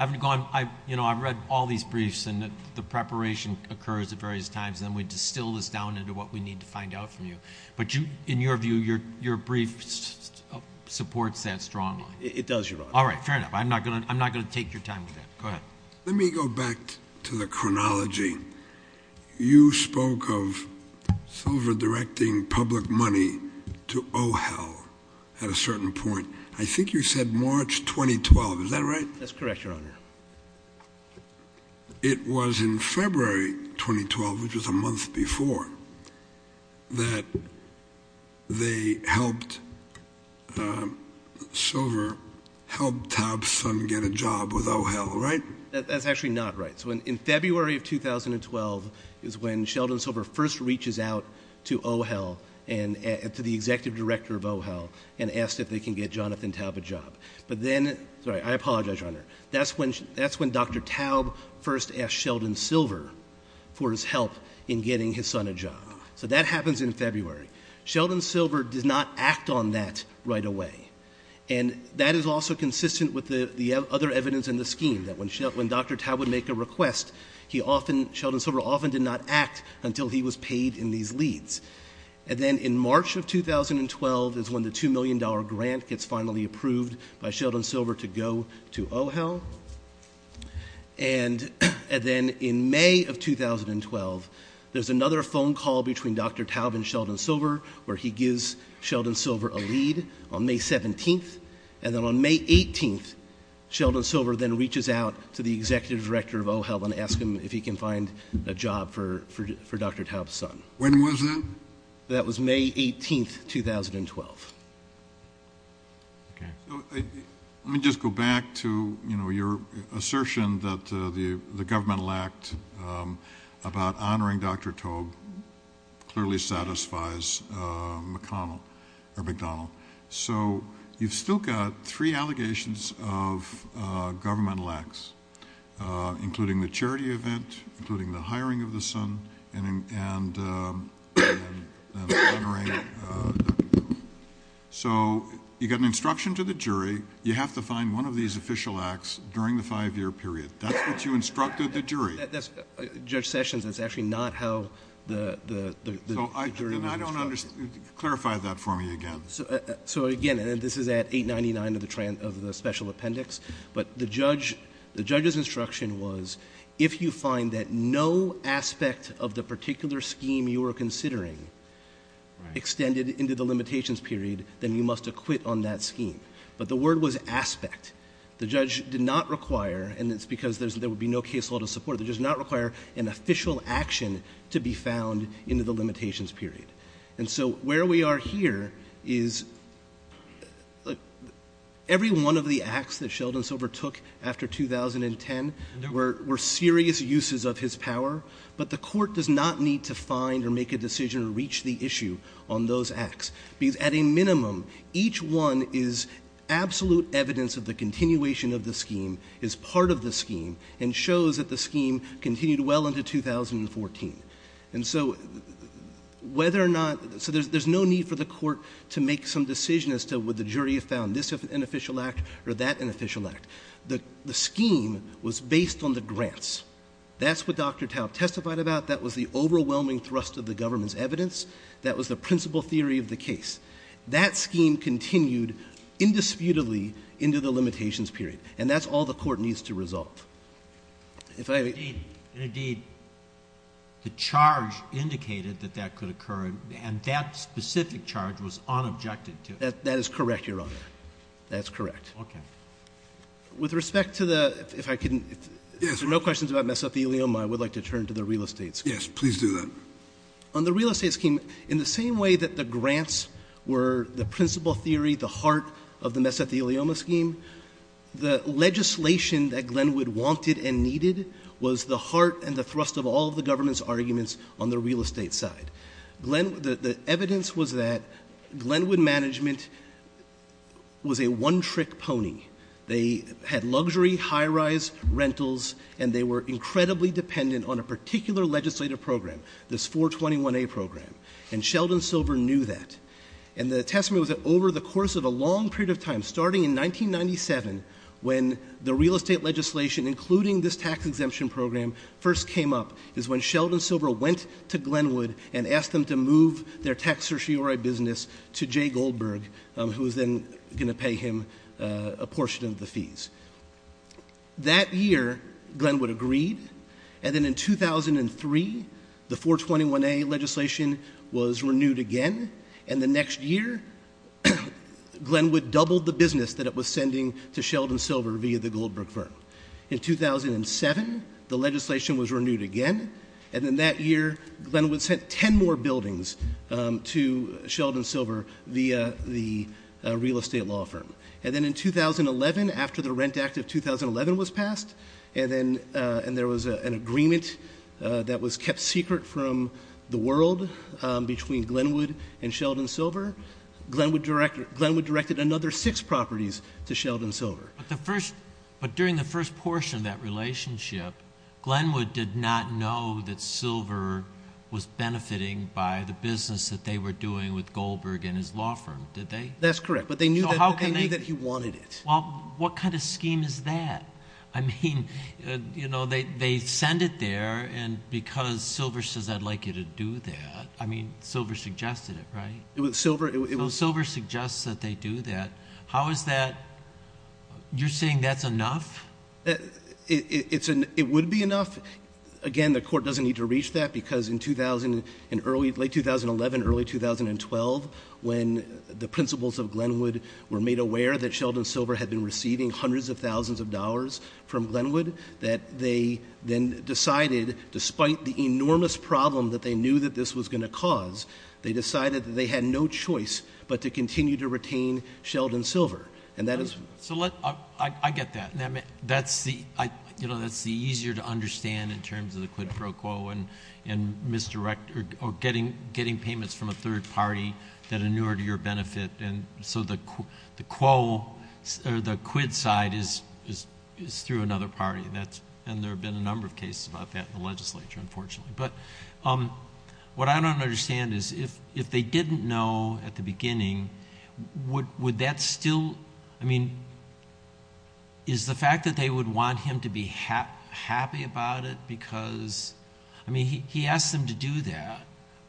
read all these briefs and the preparation occurs at various times, and then we distill this down into what we need to find out from you. But in your view, your brief supports that strongly. It does, Your Honor. All right, fair enough. I'm not going to take your time with that. Go ahead. Let me go back to the chronology. You spoke of Silver directing public money to OHEL at a certain point. I think you said March 2012. Is that right? That's correct, Your Honor. It was in February 2012, which was a month before, that they helped Silver help Topsun get a job with OHEL, right? That's actually not right. So in February of 2012 is when Sheldon Silver first reaches out to OHEL and to the executive director of OHEL and asks if they can get Jonathan Taub a job. But then—sorry, I apologize, Your Honor. That's when Dr. Taub first asked Sheldon Silver for his help in getting his son a job. So that happens in February. Sheldon Silver did not act on that right away. And that is also consistent with the other evidence in the scheme, that when Dr. Taub would make a request, Sheldon Silver often did not act until he was paid in these leads. And then in March of 2012 is when the $2 million grant gets finally approved by Sheldon Silver to go to OHEL. And then in May of 2012, there's another phone call between Dr. Taub and Sheldon Silver where he gives Sheldon Silver a lead on May 17th. And then on May 18th, Sheldon Silver then reaches out to the executive director of OHEL and asks him if he can find a job for Dr. Taub's son. When was that? That was May 18th, 2012. Let me just go back to, you know, your assertion that the governmental act about honoring Dr. Taub clearly satisfies McConnell or McDonald. So you've still got three allegations of governmental acts, including the charity event, including the hiring of the son, and honoring Dr. Taub. So you got an instruction to the jury, you have to find one of these official acts during the five-year period. That's what you instructed the jury. Judge Sessions, that's actually not how the jury understood it. Clarify that for me again. So, again, this is at 899 of the Special Appendix. But the judge's instruction was if you find that no aspect of the particular scheme you were considering extended into the limitations period, then you must acquit on that scheme. But the word was aspect. The judge did not require, and it's because there would be no case law to support, the judge did not require an official action to be found into the limitations period. And so where we are here is every one of the acts that Sheldon Silver took after 2010, there were serious uses of his power, but the Court does not need to find or make a decision to reach the issue on those acts. At a minimum, each one is absolute evidence of the continuation of the scheme, is part of the scheme, and shows that the scheme continued well into 2014. And so whether or not, so there's no need for the Court to make some decision as to would the jury have found this an official act or that an official act. The scheme was based on the grants. That's what Dr. Taub testified about. That was the overwhelming thrust of the government's evidence. That was the principal theory of the case. That scheme continued indisputably into the limitations period. And that's all the Court needs to resolve. Indeed, the charge indicated that that could occur, and that specific charge was unobjective to it. That is correct, Your Honor. That is correct. Okay. With respect to the, if I can, if there are no questions about mesothelioma, I would like to turn to the real estate scheme. Yes, please do that. On the real estate scheme, in the same way that the grants were the principal theory, the heart of the mesothelioma scheme, the legislation that Glenwood wanted and needed was the heart and the thrust of all the government's arguments on the real estate side. The evidence was that Glenwood management was a one-trick pony. They had luxury, high-rise rentals, and they were incredibly dependent on a particular legislative program, this 421A program. And Sheldon Silver knew that. And the testimony was that over the course of a long period of time, starting in 1997, when the real estate legislation, including this tax exemption program, first came up, is when Sheldon Silver went to Glenwood and asked them to move their tax certiorari business to Jay Goldberg, who was then going to pay him a portion of the fees. That year, Glenwood agreed, and then in 2003, the 421A legislation was renewed again, and the next year, Glenwood doubled the business that it was sending to Sheldon Silver via the Goldberg firm. In 2007, the legislation was renewed again, and then that year, Glenwood sent ten more buildings to Sheldon Silver via the real estate law firm. And then in 2011, after the Rent Act of 2011 was passed, and there was an agreement that was kept secret from the world between Glenwood and Sheldon Silver, Glenwood directed another six properties to Sheldon Silver. But during the first portion of that relationship, Glenwood did not know that Silver was benefiting by the business that they were doing with Goldberg and his law firm, did they? That's correct, but they knew that you wanted it. Well, what kind of scheme is that? I mean, you know, they send it there, and because Silver says, I'd like you to do that, I mean, Silver suggested it, right? Silver suggests that they do that. How is that? You're saying that's enough? It would be enough. Again, the court doesn't need to reach that, because in late 2011, early 2012, when the principals of Glenwood were made aware that Sheldon Silver had been receiving hundreds of thousands of dollars from Glenwood, that they then decided, despite the enormous problem that they knew that this was going to cause, they decided that they had no choice but to continue to retain Sheldon Silver. I get that. That's the easier to understand in terms of the quid pro quo and getting payments from a third party that are newer to your benefit. So the quid side is through another party, and there have been a number of cases about that in the legislature, unfortunately. But what I don't understand is if they didn't know at the beginning, would that still, I mean, is the fact that they would want him to be happy about it because, I mean, he asked them to do that,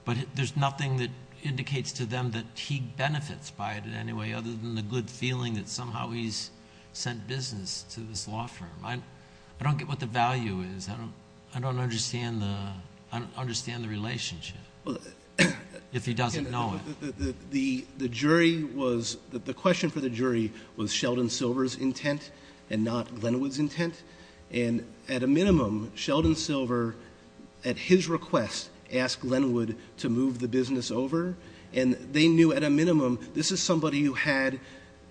but there's nothing that indicates to them that he benefits by it anyway other than the good feeling that somehow he's sent business to this law firm. I don't get what the value is. I don't understand the relationship, if he doesn't know it. The jury was, the question for the jury was Sheldon Silver's intent and not Glenwood's intent, and at a minimum, Sheldon Silver, at his request, asked Glenwood to move the business over, and they knew at a minimum this is somebody who had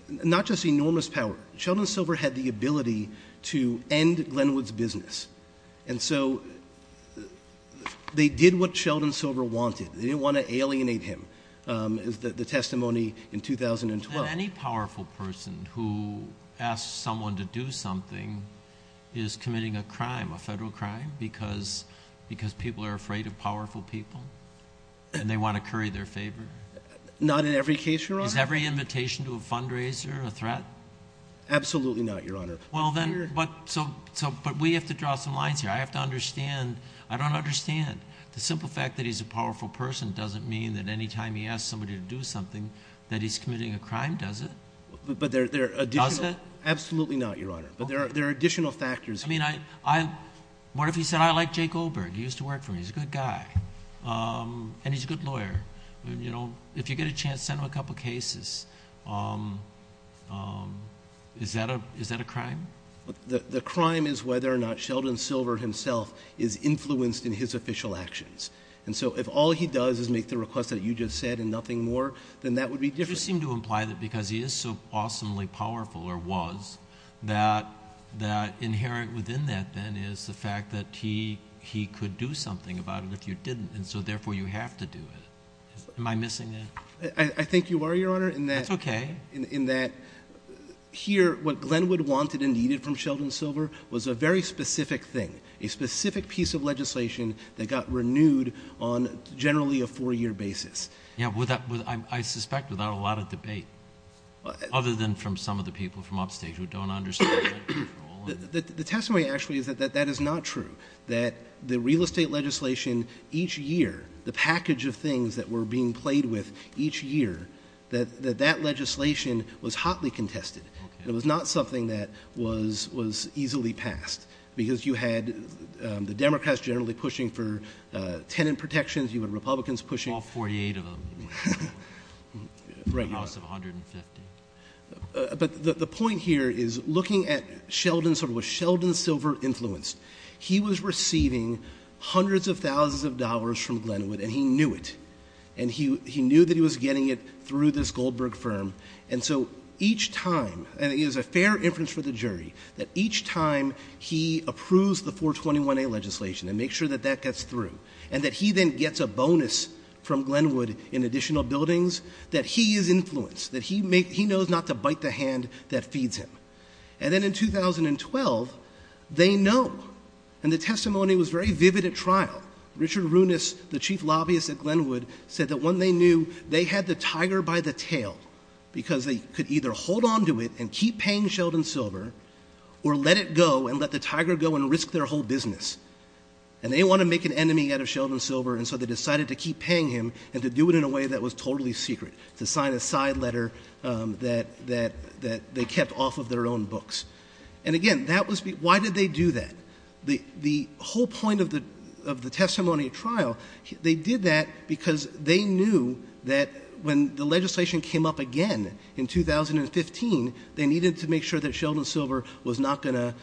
not just enormous power. Sheldon Silver had the ability to end Glenwood's business, and so they did what Sheldon Silver wanted. They didn't want to alienate him, the testimony in 2012. Any powerful person who asks someone to do something is committing a crime, a federal crime, because people are afraid of powerful people and they want to curry their favor? Not in every case, Your Honor. Is every invitation to a fundraiser a threat? Absolutely not, Your Honor. But we have to draw some lines here. I have to understand, I don't understand. The simple fact that he's a powerful person doesn't mean that any time he asks somebody to do something that he's committing a crime, does it? Absolutely not, Your Honor, but there are additional factors. I mean, what if he said, I like Jake Goldberg, he used to work for me, he's a good guy, and he's a good lawyer. If you get a chance, send him a couple of cases. Is that a crime? The crime is whether or not Sheldon Silver himself is influenced in his official actions. And so if all he does is make the request that you just said and nothing more, then that would be different. You seem to imply that because he is so awesomely powerful, or was, that inherent within that then is the fact that he could do something about it if you didn't, and so therefore you have to do it. Am I missing anything? I think you are, Your Honor, in that here, what Glenwood wanted and needed from Sheldon Silver was a very specific thing, a specific piece of legislation that got renewed on generally a four-year basis. Yeah, I suspect without a lot of debate, other than from some of the people from upstate who don't understand the role. The testimony actually is that that is not true, that the real estate legislation each year, the package of things that were being played with each year, that that legislation was hotly contested. It was not something that was easily passed because you had the Democrats generally pushing for tenant protections, you had Republicans pushing for... All 48 of them. The loss of 150. The point here is looking at Sheldon Silver, was Sheldon Silver influenced? He was receiving hundreds of thousands of dollars from Glenwood, and he knew it, and he knew that he was getting it through this Goldberg firm, and so each time, and it is a fair inference for the jury, that each time he approves the 421A legislation and makes sure that that gets through, and that he then gets a bonus from Glenwood in additional buildings, that he is influenced, that he knows not to bite the hand that feeds him. And then in 2012, they know, and the testimony was very vivid at trial. Richard Runas, the chief lobbyist at Glenwood, said that when they knew, they had the tiger by the tail because they could either hold on to it and keep paying Sheldon Silver or let it go and let the tiger go and risk their whole business. And they wanted to make an enemy out of Sheldon Silver, and so they decided to keep paying him and to do it in a way that was totally secret, to sign a side letter that they kept off of their own books. And again, why did they do that? The whole point of the testimony at trial, they did that because they knew that when the legislation came up again in 2015, they needed to make sure that Sheldon Silver was not going to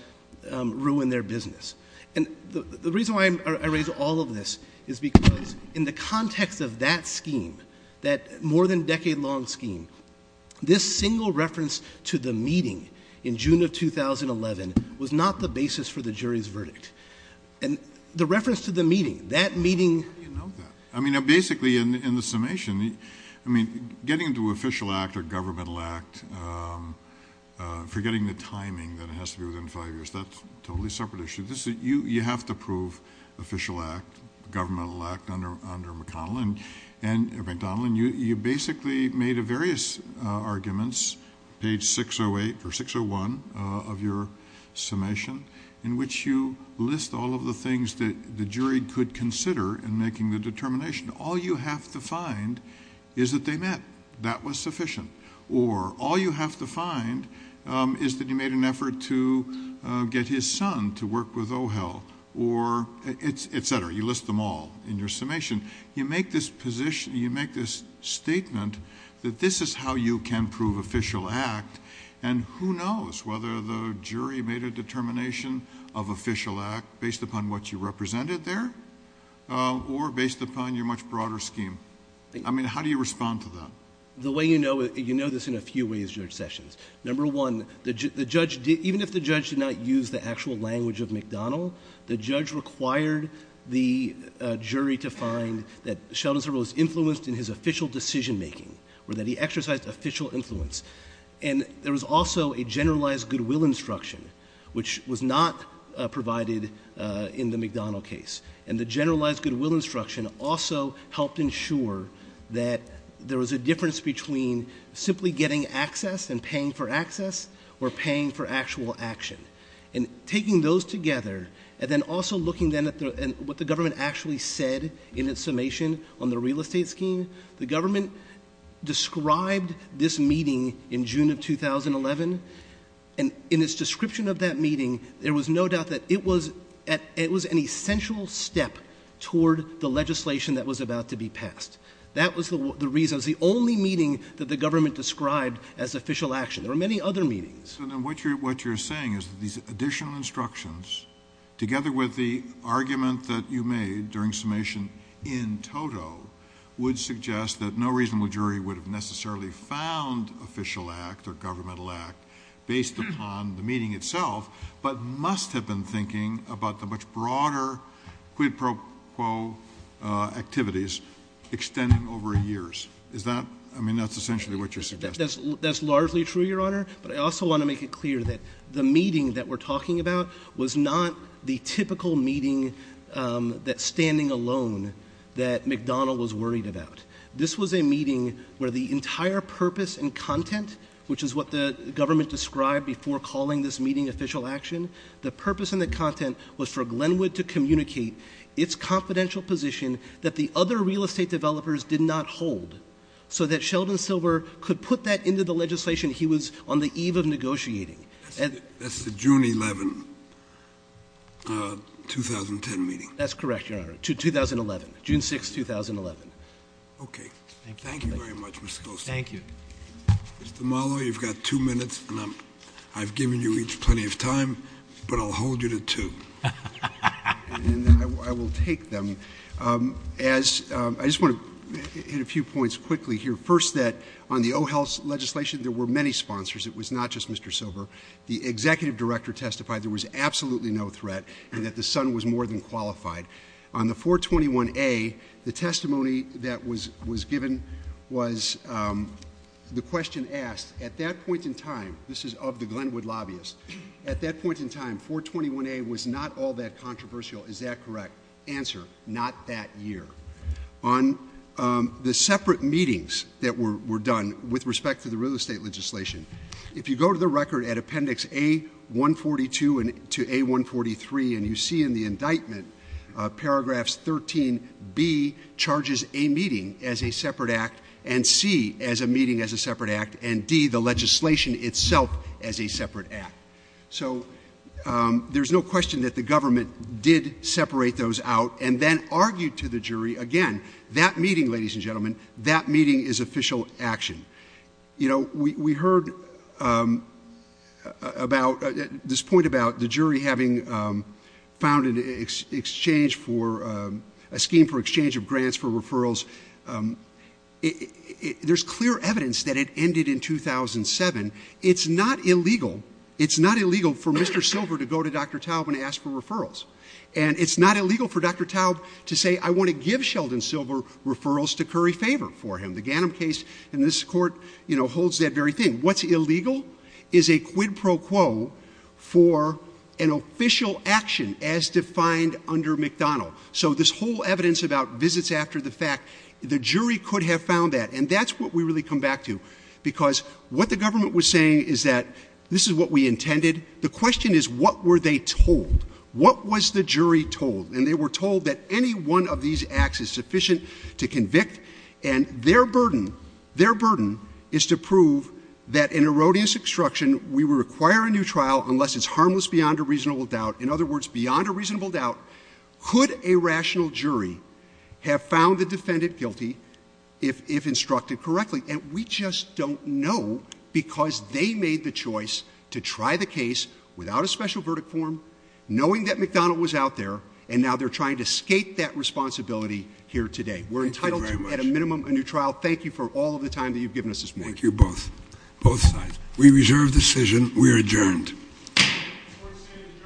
ruin their business. And the reason why I raise all of this is because in the context of that scheme, that more-than-decade-long scheme, this single reference to the meeting in June of 2011 was not the basis for the jury's verdict. And the reference to the meeting, that meeting... I mean, basically, in the summation, I mean, getting to official act or governmental act, forgetting the timing that it has to be within five years, that's a totally separate issue. You have to prove official act, governmental act under McDonnell. And, McDonnell, you basically made various arguments, page 608 or 601 of your summation, in which you list all of the things that the jury could consider in making the determination. All you have to find is that they met. That was sufficient. Or all you have to find is that he made an effort to get his son to work with O'Hill or et cetera. You list them all in your summation. You make this statement that this is how you can prove official act, and who knows whether the jury made a determination of official act based upon what you represented there or based upon your much broader scheme. I mean, how do you respond to that? The way you know it, you know this in a few ways, Judge Sessions. Number one, even if the judge did not use the actual language of McDonnell, the judge required the jury to find that Sheldon Thoreau was influenced in his official decision-making or that he exercised official influence. And there was also a generalized goodwill instruction, which was not provided in the McDonnell case. And the generalized goodwill instruction also helped ensure that there was a difference between simply getting access and paying for access or paying for actual action. And taking those together and then also looking then at what the government actually said in its summation on the real estate scheme, the government described this meeting in June of 2011, and in its description of that meeting, there was no doubt that it was an essential step toward the legislation that was about to be passed. That was the reason. It was the only meeting that the government described as official action. There were many other meetings. So then what you're saying is that these additional instructions, together with the argument that you made during summation in Toto, would suggest that no reasonable jury would have necessarily found official act or governmental act based upon the meeting itself, but must have been thinking about the much broader quid pro quo activities extending over years. I mean, that's essentially what you're suggesting. That's largely true, Your Honor. But I also want to make it clear that the meeting that we're talking about was not the typical meeting that's standing alone that McDonnell was worried about. This was a meeting where the entire purpose and content, which is what the government described before calling this meeting official action, the purpose and the content was for Glenwood to communicate its confidential position that the other real estate developers did not hold so that Sheldon Silver could put that into the legislation he was on the eve of negotiating. That's the June 11, 2010 meeting. That's correct, Your Honor. 2011. June 6, 2011. Okay. Thank you very much, Mr. Klosner. Thank you. Mr. Muller, you've got two minutes left. I've given you each plenty of time, but I'll hold you to two. And then I will take them. I just want to hit a few points quickly here. First, on the O-Health legislation, there were many sponsors. It was not just Mr. Silver. The executive director testified there was absolutely no threat and that the son was more than qualified. On the 421A, the testimony that was given was the question asked, at that point in time, this is of the Glenwood lobbyists, at that point in time, 421A was not all that controversial. Is that correct? Answer, not that year. On the separate meetings that were done with respect to the real estate legislation, if you go to the record at Appendix A-142 to A-143 and you see in the indictment, Paragraphs 13B charges a meeting as a separate act and C, as a meeting as a separate act, and D, the legislation itself as a separate act. So there's no question that the government did separate those out and then argued to the jury, again, that meeting, ladies and gentlemen, that meeting is official action. You know, we heard about this point about the jury having found an exchange for, a scheme for exchange of grants for referrals. There's clear evidence that it ended in 2007. It's not illegal, it's not illegal for Mr. Silver to go to Dr. Taub and ask for referrals. And it's not illegal for Dr. Taub to say, I want to give Sheldon Silver referrals to curry favor for him. The Ganim case in this court, you know, holds that very thing. What's illegal is a quid pro quo for an official action as defined under McDonald. So this whole evidence about visits after the fact, the jury could have found that. And that's what we really come back to because what the government was saying is that this is what we intended. The question is, what were they told? What was the jury told? And they were told that any one of these acts is sufficient to convict. And their burden, their burden, is to prove that in erroneous obstruction, we will require a new trial unless it's harmless beyond a reasonable doubt. In other words, beyond a reasonable doubt, could a rational jury have found the defendant guilty if instructed correctly? And we just don't know because they made the choice to try the case without a special verdict form, knowing that McDonald was out there, and now they're trying to escape that responsibility here today. We're entitled to, at a minimum, a new trial. Thank you for all of the time that you've given us this morning. Thank you, both. Both sides. We reserve decision. We are adjourned. We are adjourned.